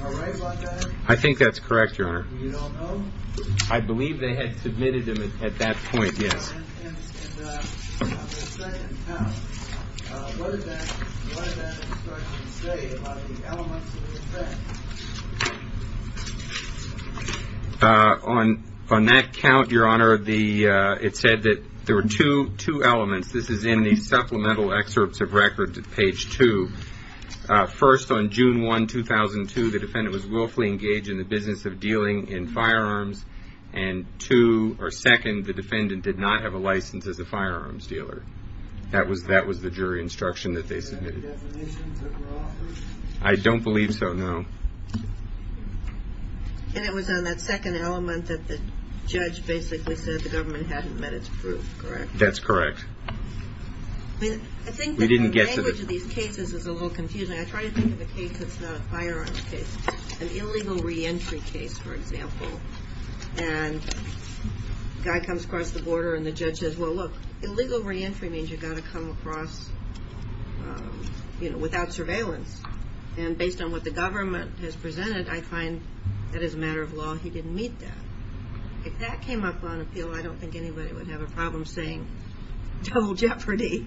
Am I right about that? I think that's correct, Your Honor. You don't know? I believe they had submitted them at that point, yes. And on the second count, what did that instruction say about the elements of the offense? On that count, Your Honor, it said that there were two elements. This is in the supplemental excerpts of records at page two. First, on June 1, 2002, the defendant was willfully engaged in the business of dealing in firearms. And two, or second, the defendant did not have a license as a firearms dealer. That was the jury instruction that they submitted. Was that the definition that was offered? I don't believe so, no. And it was on that second element that the judge basically said the government hadn't met its proof, correct? That's correct. I think the language of these cases is a little confusing. I try to think of a case that's not a firearms case. An illegal reentry case, for example. And a guy comes across the border and the judge says, Well, look, illegal reentry means you've got to come across without surveillance. And based on what the government has presented, I find that as a matter of law he didn't meet that. If that came up on appeal, I don't think anybody would have a problem saying total jeopardy.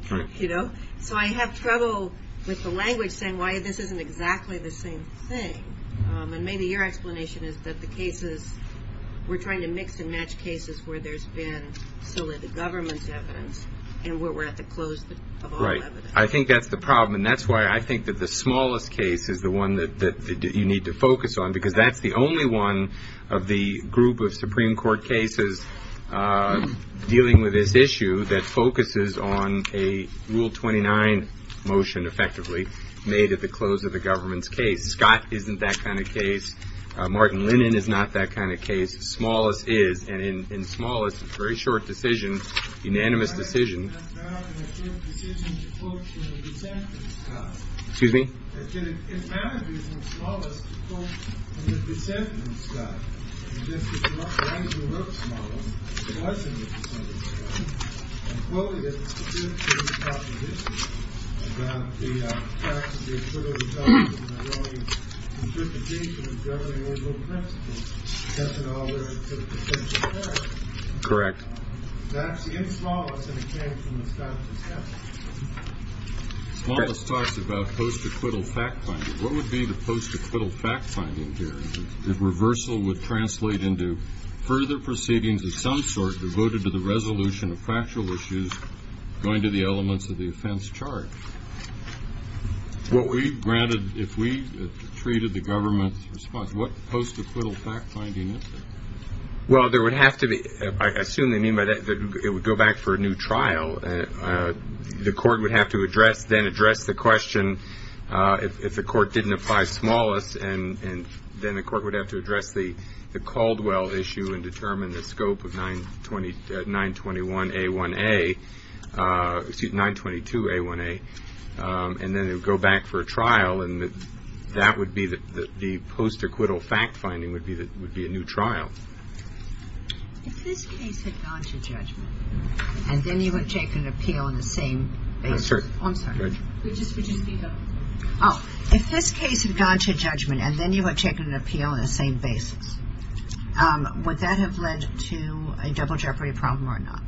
So I have trouble with the language saying why this isn't exactly the same thing. And maybe your explanation is that the cases, we're trying to mix and match cases where there's been solely the government's evidence and where we're at the close of all evidence. I think that's the problem. And that's why I think that the smallest case is the one that you need to focus on, because that's the only one of the group of Supreme Court cases dealing with this issue that focuses on a Rule 29 motion effectively made at the close of the government's case. Scott isn't that kind of case. Martin Linnan is not that kind of case. Smallest is. And in smallest, it's a very short decision, unanimous decision. Excuse me. Correct. Smallest talks about post-acquittal fact-finding. What would be the post-acquittal fact-finding here if reversal would translate into further proceedings of some sort devoted to the resolution of factual issues going to the elements of the offense charge? What we've granted, if we treated the government's response, what post-acquittal fact-finding is there? Well, there would have to be – I assume they mean by that it would go back for a new trial. The court would have to address – then address the question if the court didn't apply smallest, and then the court would have to address the Caldwell issue and determine the scope of 921A1A – excuse me, 922A1A. And then it would go back for a trial, and that would be – the post-acquittal fact-finding would be a new trial. If this case had gone to judgment and then you had taken an appeal on the same basis – I'm sorry. Would you speak up? Oh. If this case had gone to judgment and then you had taken an appeal on the same basis, would that have led to a double jeopardy problem or not?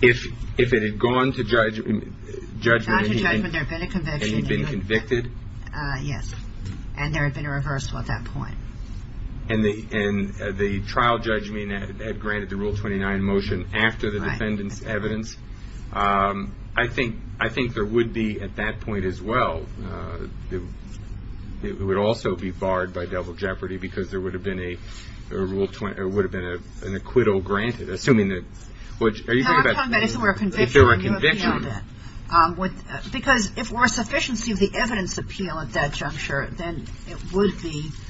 If it had gone to judgment and he'd been convicted? Yes. And there had been a reversal at that point. And the trial judgment had granted the Rule 29 motion after the defendant's evidence? Right. I think there would be at that point as well – it would also be barred by double jeopardy because there would have been a Rule – there would have been an acquittal granted, assuming that – No, I'm talking about if there were a conviction and you appealed it. If there were a conviction. Because if there were a sufficiency of the evidence appeal at that juncture, then it would be –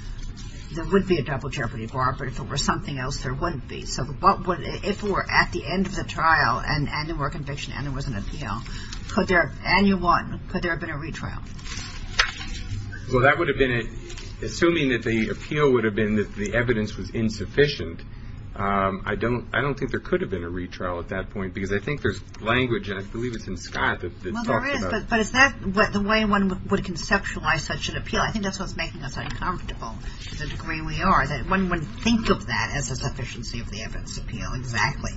there would be a double jeopardy bar, but if it were something else, there wouldn't be. So if it were at the end of the trial and there were a conviction and there was an appeal, could there – and you won – could there have been a retrial? Well, that would have been – assuming that the appeal would have been that the evidence was insufficient, I don't think there could have been a retrial at that point because I think there's language, and I believe it's in Scott, that talks about – Well, there is, but is that the way one would conceptualize such an appeal? I think that's what's making us uncomfortable to the degree we are, that one wouldn't think of that as a sufficiency of the evidence appeal exactly.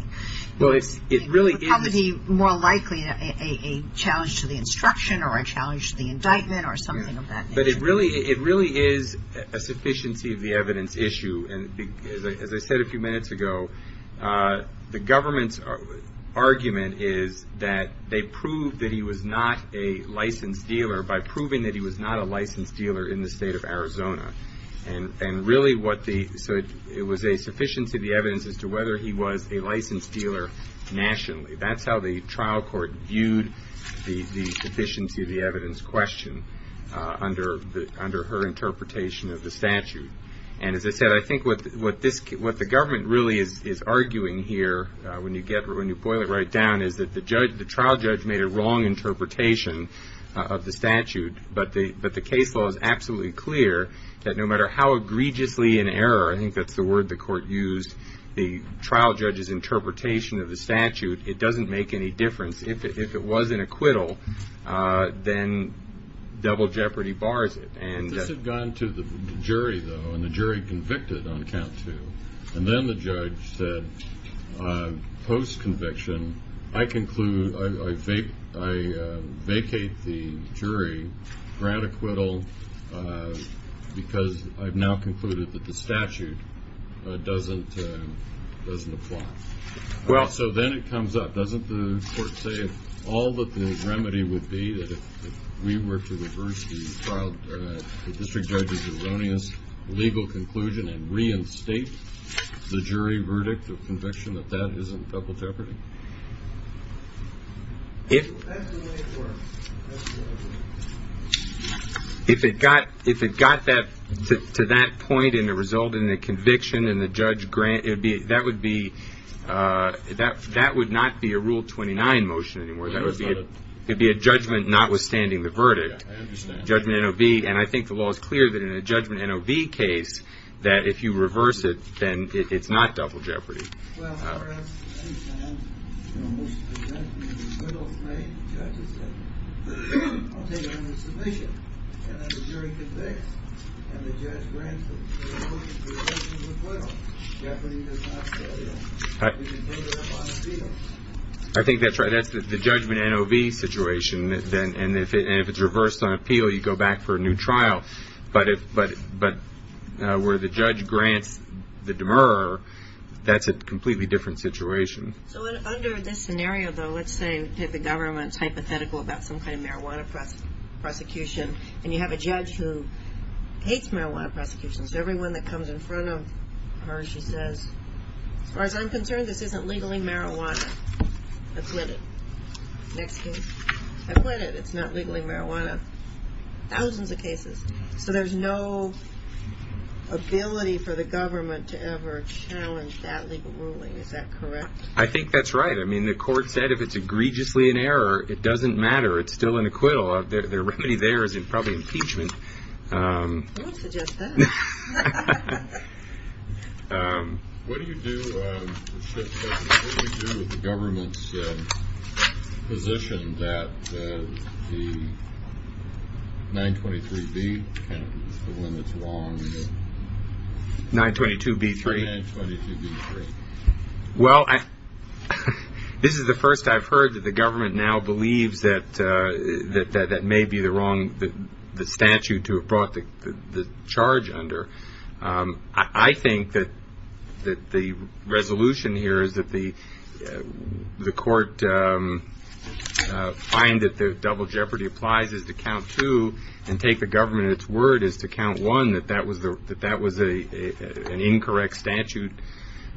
Well, it really is – How would be more likely a challenge to the instruction or a challenge to the indictment or something of that nature? But it really is a sufficiency of the evidence issue. And as I said a few minutes ago, the government's argument is that they proved that he was not a licensed dealer by proving that he was not a licensed dealer in the state of Arizona. And really what the – so it was a sufficiency of the evidence as to whether he was a licensed dealer nationally. That's how the trial court viewed the sufficiency of the evidence question under her interpretation of the statute. And as I said, I think what this – what the government really is arguing here when you get – when you boil it right down is that the trial judge made a wrong interpretation of the statute, but the case law is absolutely clear that no matter how egregiously in error – I think that's the word the court used – the trial judge's interpretation of the statute, it doesn't make any difference. If it was an acquittal, then double jeopardy bars it. This had gone to the jury, though, and the jury convicted on count two. And then the judge said, post-conviction, I conclude – I vacate the jury, grant acquittal, because I've now concluded that the statute doesn't apply. Well, so then it comes up. Doesn't the court say all that the remedy would be if we were to reverse the trial – the conclusion and reinstate the jury verdict of conviction that that isn't double jeopardy? If – If it got – if it got that – to that point and it resulted in a conviction and the judge – that would be – that would not be a Rule 29 motion anymore. That would be a judgment notwithstanding the verdict. I understand. Judgment NOV. And I think the law is clear that in a judgment NOV case, that if you reverse it, then it's not double jeopardy. Well, as far as I understand, almost the judgment acquittal is made. The judge has said, I'll take it under submission. And then the jury convicts, and the judge grants acquittal. Jeopardy does not fail. We can take it up on appeal. I think that's right. That's the judgment NOV situation. And if it's reversed on appeal, you go back for a new trial. But where the judge grants the demurrer, that's a completely different situation. So under this scenario, though, let's say the government is hypothetical about some kind of marijuana prosecution, and you have a judge who hates marijuana prosecution. So everyone that comes in front of her, she says, As far as I'm concerned, this isn't legally marijuana. I quit it. Next case. I quit it. It's not legally marijuana. Thousands of cases. So there's no ability for the government to ever challenge that legal ruling. Is that correct? I think that's right. I mean, the court said if it's egregiously in error, it doesn't matter. It's still an acquittal. The remedy there is probably impeachment. I would suggest that. What do you do with the government's position that the 923B, the one that's wrong? 922B3. 922B3. Well, this is the first I've heard that the government now believes that that may be the wrong statute to have brought the charge under. I think that the resolution here is that the court find that the double jeopardy applies is to count two and take the government at its word is to count one, that that was an incorrect statute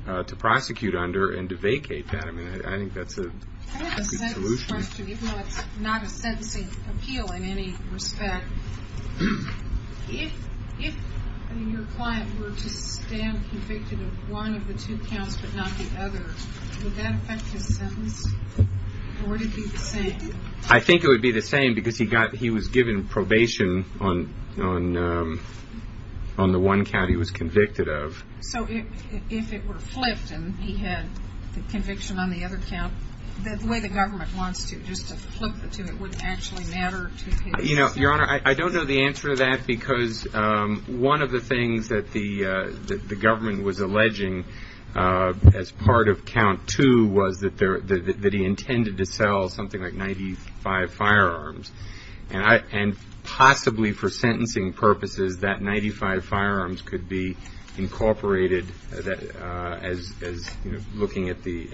to prosecute under and to vacate that. I mean, I think that's a good solution. I have a sentence question, even though it's not a sentencing appeal in any respect. If your client were to stand convicted of one of the two counts but not the other, would that affect his sentence? Or would it be the same? I think it would be the same because he was given probation on the one count he was convicted of. So if it were flipped and he had conviction on the other count, the way the government wants to, just to flip the two, it wouldn't actually matter to his sentence? Your Honor, I don't know the answer to that because one of the things that the government was alleging as part of count two was that he intended to sell something like 95 firearms. And possibly for sentencing purposes, that 95 firearms could be incorporated as looking at the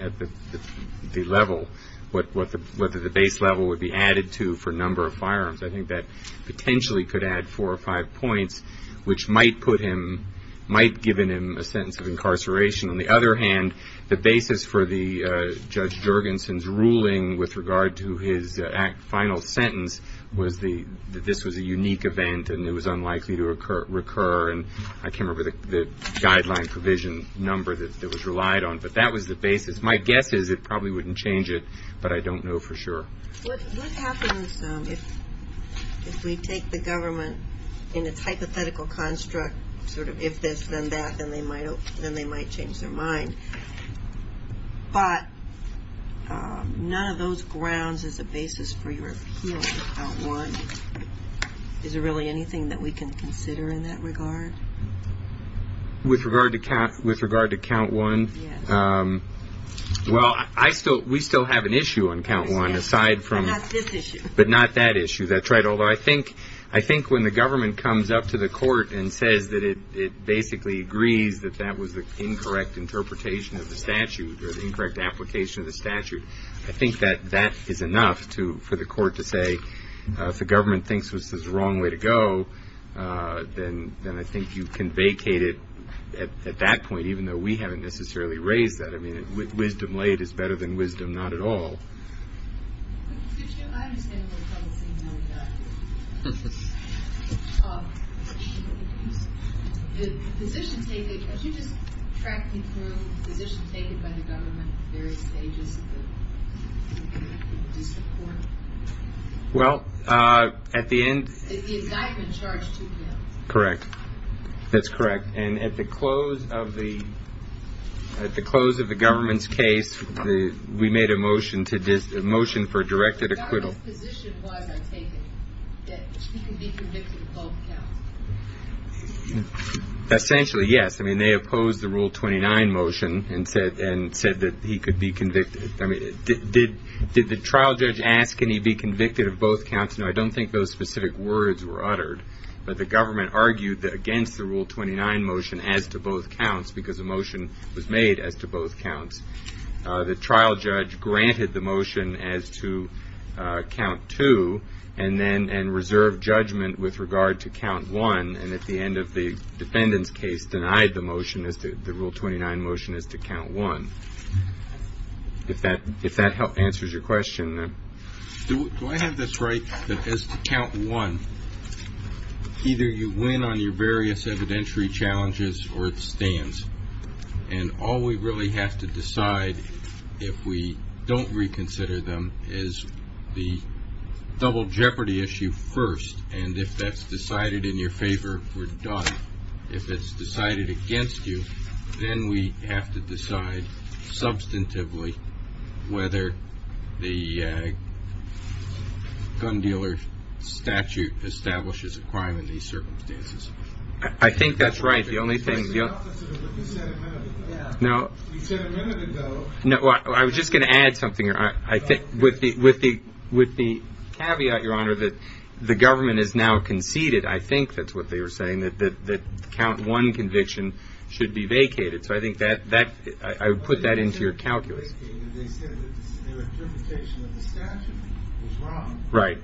level, what the base level would be added to for number of firearms. I think that potentially could add four or five points, which might put him, might give him a sentence of incarceration. On the other hand, the basis for Judge Jurgensen's ruling with regard to his final sentence was that this was a unique event and it was unlikely to recur. And I can't remember the guideline provision number that was relied on. But that was the basis. My guess is it probably wouldn't change it, but I don't know for sure. What happens if we take the government in its hypothetical construct, sort of if this, then that, then they might change their mind. But none of those grounds is a basis for your appeal to count one. Is there really anything that we can consider in that regard? With regard to count one? Yes. Well, I still, we still have an issue on count one, aside from. But not this issue. But not that issue. That's right. Although I think when the government comes up to the court and says that it basically agrees that that was the incorrect interpretation of the statute or the incorrect application of the statute, I think that that is enough for the court to say, if the government thinks this is the wrong way to go, then I think you can vacate it at that point, even though we haven't necessarily raised that. I mean, wisdom laid is better than wisdom not at all. Could you just track me through the position taken by the government at various stages? Well, at the end. The indictment charged two counts. Correct. That's correct. And at the close of the government's case, we made a motion for directed acquittal. The government's position was, I take it, that he could be convicted of both counts. Essentially, yes. I mean, they opposed the Rule 29 motion and said that he could be convicted. I mean, did the trial judge ask can he be convicted of both counts? No, I don't think those specific words were uttered. But the government argued that against the Rule 29 motion as to both counts, because a motion was made as to both counts, the trial judge granted the motion as to count two and then reserved judgment with regard to count one, and at the end of the defendant's case denied the motion as to the Rule 29 motion as to count one. If that answers your question. Do I have this right that as to count one, either you win on your various evidentiary challenges or it stands, and all we really have to decide if we don't reconsider them is the double jeopardy issue first, and if that's decided in your favor, we're done. If it's decided against you, then we have to decide substantively whether the gun dealer statute establishes a crime in these circumstances. I think that's right. The only thing. You said a minute ago. I was just going to add something. With the caveat, Your Honor, that the government has now conceded, I think that's what they were saying, that count one conviction should be vacated. So I think I would put that into your calculus. They said that their interpretation of the statute was wrong. Right.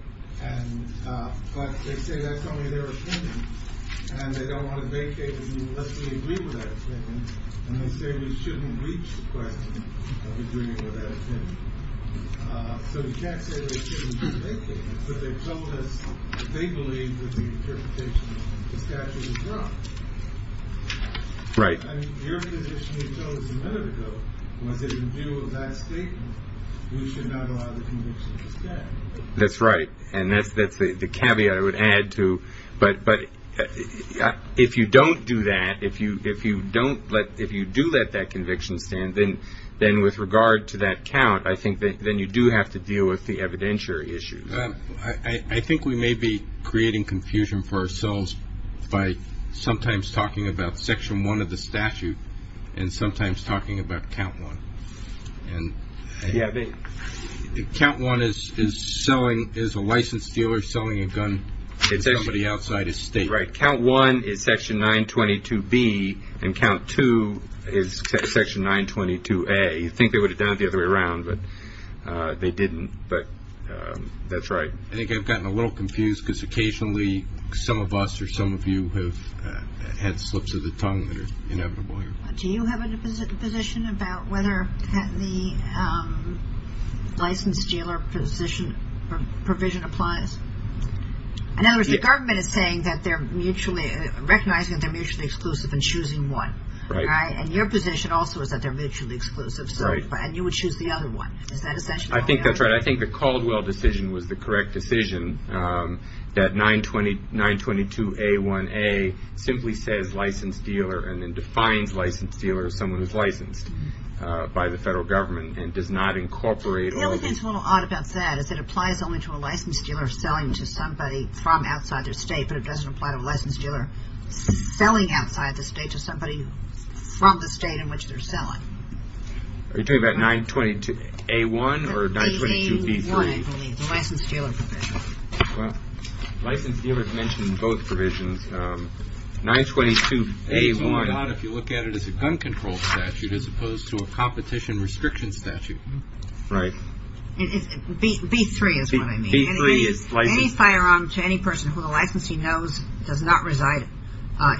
But they say that's only their opinion, and they don't want to vacate it unless we agree with that opinion, and they say we shouldn't reach the question of agreeing with that opinion. So we can't say we shouldn't vacate it, but they told us they believed that the interpretation of the statute was wrong. Right. Your position you chose a minute ago was that in view of that statement, we should not allow the conviction to stand. That's right, and that's the caveat I would add to. But if you don't do that, if you do let that conviction stand, then with regard to that count, I think then you do have to deal with the evidentiary issues. I think we may be creating confusion for ourselves by sometimes talking about section one of the statute and sometimes talking about count one. And count one is a licensed dealer selling a gun to somebody outside his state. Right. Count one is section 922B, and count two is section 922A. You'd think they would have done it the other way around, but they didn't. But that's right. I think I've gotten a little confused because occasionally some of us or some of you have had slips of the tongue that are inevitable here. Do you have a position about whether the licensed dealer provision applies? In other words, the government is saying that they're mutually recognizing that they're mutually exclusive in choosing one. Right. And your position also is that they're mutually exclusive. Right. And you would choose the other one. Is that essential? I think that's right. I think the Caldwell decision was the correct decision that 922A1A simply says licensed dealer and then defines licensed dealer as someone who's licensed by the federal government and does not incorporate all the The thing that's a little odd about that is that it applies only to a licensed dealer selling to somebody from outside their state, but it doesn't apply to a licensed dealer selling outside the state to somebody from the state in which they're selling. Are you talking about 922A1 or 922B3? 922A1, I believe. The licensed dealer provision. Wow. Licensed dealers mention both provisions. 922A1. It's more odd if you look at it as a gun control statute as opposed to a competition restriction statute. Right. B3 is what I mean. B3 is licensed. Any firearm to any person who the licensee knows does not reside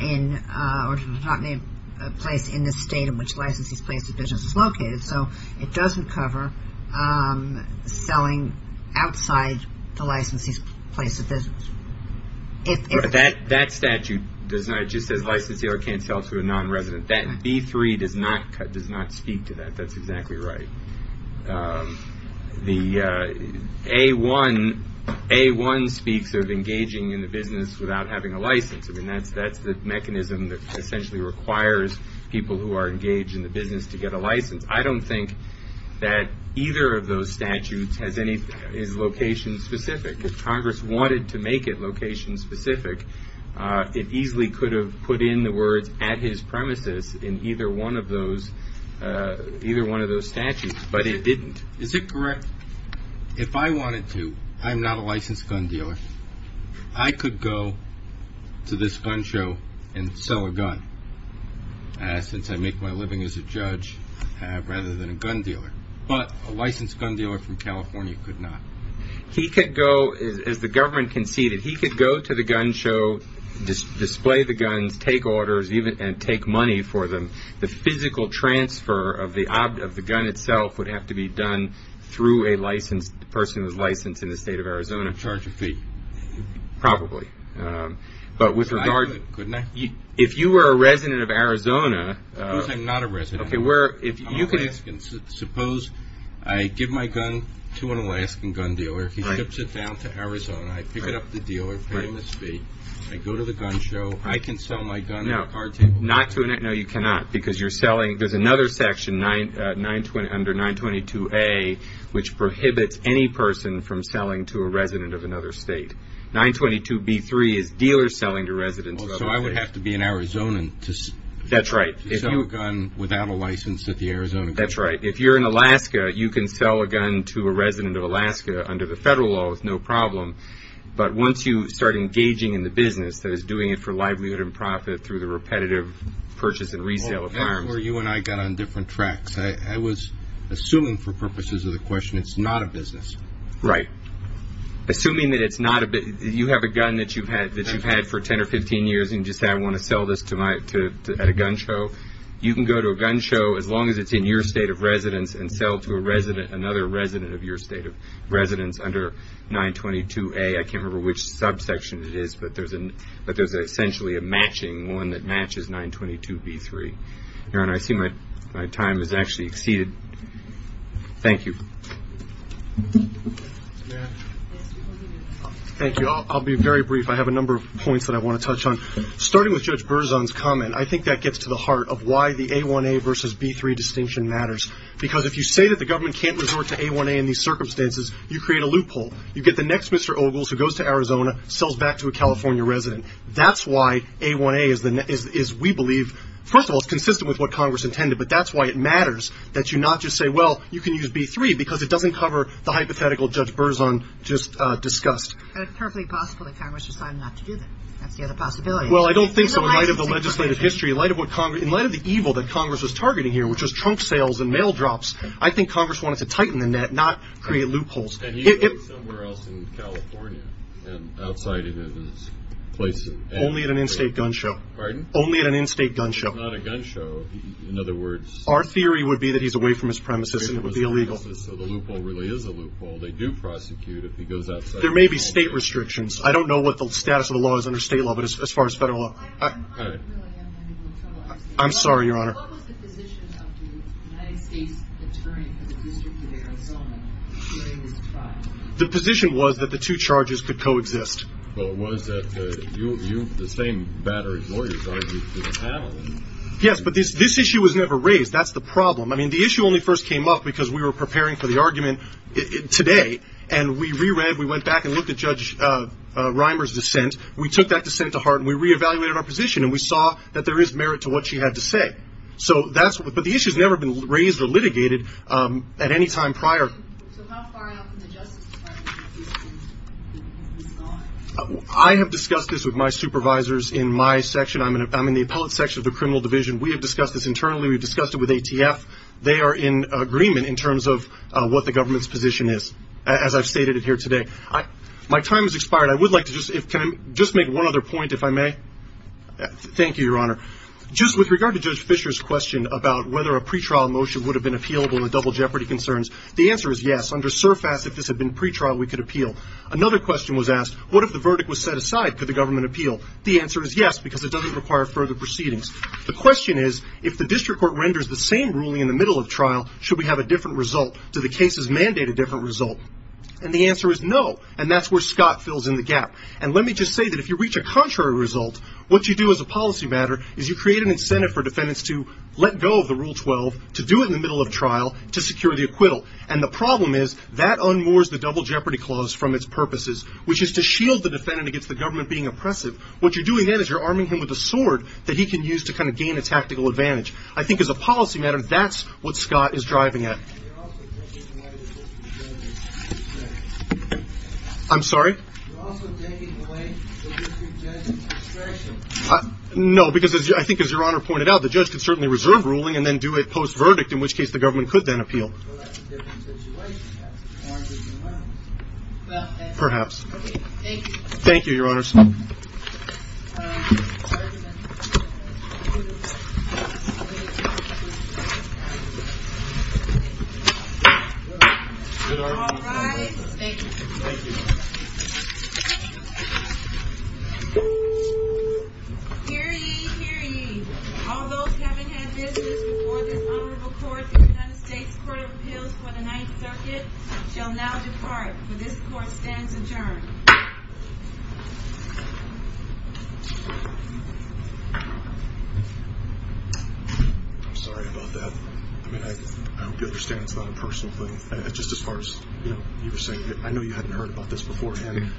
in or does not make a place in the state in which the licensee's place of business is located, so it doesn't cover selling outside the licensee's place of business. That statute just says licensed dealer can't sell to a nonresident. That B3 does not speak to that. That's exactly right. The A1 speaks of engaging in the business without having a license. I mean, that's the mechanism that essentially requires people who are engaged in the business to get a license. I don't think that either of those statutes is location specific. If Congress wanted to make it location specific, it easily could have put in the words at his premises in either one of those statutes, but it didn't. Is it correct, if I wanted to, I'm not a licensed gun dealer, I could go to this gun show and sell a gun, since I make my living as a judge rather than a gun dealer, but a licensed gun dealer from California could not? He could go, as the government conceded, he could go to the gun show, display the guns, take orders, and take money for them. The physical transfer of the gun itself would have to be done through a person who's licensed in the state of Arizona. Charge a fee. Probably. But with regard to, if you were a resident of Arizona. Suppose I'm not a resident. I'm Alaskan. Suppose I give my gun to an Alaskan gun dealer, he ships it down to Arizona, I pick it up at the dealer, pay him his fee, I go to the gun show, I can sell my gun at a card table. No, you cannot, because there's another section under 922A, which prohibits any person from selling to a resident of another state. 922B3 is dealers selling to residents of another state. So I would have to be an Arizonan to sell a gun without a license? That's right. If you're in Alaska, you can sell a gun to a resident of Alaska under the federal law with no problem. But once you start engaging in the business that is doing it for livelihood and profit through the repetitive purchase and resale of firearms. That's where you and I got on different tracks. I was assuming for purposes of the question, it's not a business. Right. Assuming that it's not a business. You have a gun that you've had for 10 or 15 years and just said, I want to sell this at a gun show. You can go to a gun show as long as it's in your state of residence and sell to another resident of your state of residence under 922A. I can't remember which subsection it is, but there's essentially a matching one that matches 922B3. Your Honor, I see my time has actually exceeded. Thank you. Thank you. I'll be very brief. I have a number of points that I want to touch on. Starting with Judge Berzon's comment, I think that gets to the heart of why the A1A versus B3 distinction matters. Because if you say that the government can't resort to A1A in these circumstances, you create a loophole. You get the next Mr. Ogles who goes to Arizona, sells back to a California resident. That's why A1A is, we believe, first of all, it's consistent with what Congress intended, but that's why it matters that you not just say, well, you can use B3, because it doesn't cover the hypothetical Judge Berzon just discussed. And it's perfectly possible that Congress decided not to do that. That's the other possibility. Well, I don't think so. In light of the legislative history, in light of the evil that Congress was targeting here, which was trunk sales and mail drops, I think Congress wanted to tighten the net, not create loopholes. And he goes somewhere else in California and outside of his place in Arizona. Only at an in-state gun show. Pardon? Only at an in-state gun show. It's not a gun show. In other words. Our theory would be that he's away from his premises and it would be illegal. So the loophole really is a loophole. They do prosecute if he goes outside. There may be state restrictions. I don't know what the status of the law is under state law, but as far as federal law. I'm sorry, Your Honor. What was the position of the United States Attorney for the District of Arizona during this trial? The position was that the two charges could coexist. Well, it was that you, the same battery lawyer, tried to panel him. Yes, but this issue was never raised. That's the problem. I mean, the issue only first came up because we were preparing for the argument today, and we re-read, we went back and looked at Judge Reimer's dissent. We took that dissent to heart, and we re-evaluated our position, and we saw that there is merit to what she had to say. But the issue's never been raised or litigated at any time prior. So how far out from the Justice Department is this going? I have discussed this with my supervisors in my section. I'm in the appellate section of the criminal division. We have discussed this internally. We've discussed it with ATF. They are in agreement in terms of what the government's position is, as I've stated it here today. My time has expired. I would like to just make one other point, if I may. Thank you, Your Honor. Just with regard to Judge Fischer's question about whether a pretrial motion would have been appealable with double jeopardy concerns, the answer is yes. Under surface, if this had been pretrial, we could appeal. Another question was asked, what if the verdict was set aside? Could the government appeal? The answer is yes, because it doesn't require further proceedings. The question is, if the district court renders the same ruling in the middle of trial, should we have a different result? Do the cases mandate a different result? And the answer is no, and that's where Scott fills in the gap. And let me just say that if you reach a contrary result, what you do as a policy matter is you create an incentive for defendants to let go of the Rule 12, to do it in the middle of trial, to secure the acquittal. And the problem is that unmoors the double jeopardy clause from its purposes, which is to shield the defendant against the government being oppressive. What you're doing then is you're arming him with a sword that he can use to kind of gain a tactical advantage. I think as a policy matter, that's what Scott is driving at. You're also taking away the district judge's discretion. I'm sorry? You're also taking away the district judge's discretion. No, because I think, as Your Honor pointed out, the judge could certainly reserve ruling and then do it post-verdict, in which case the government could then appeal. Well, that's a different situation. Perhaps. Thank you. Thank you, Your Honors. Thank you. All rise. Thank you. Thank you. Hear ye, hear ye. All those having had business before this honorable court in the United States Court of Appeals for the Ninth Circuit shall now depart, for this court stands adjourned. Thank you. I'm sorry about that. I hope you understand it's not a personal thing. Just as far as you were saying, I know you hadn't heard about this beforehand.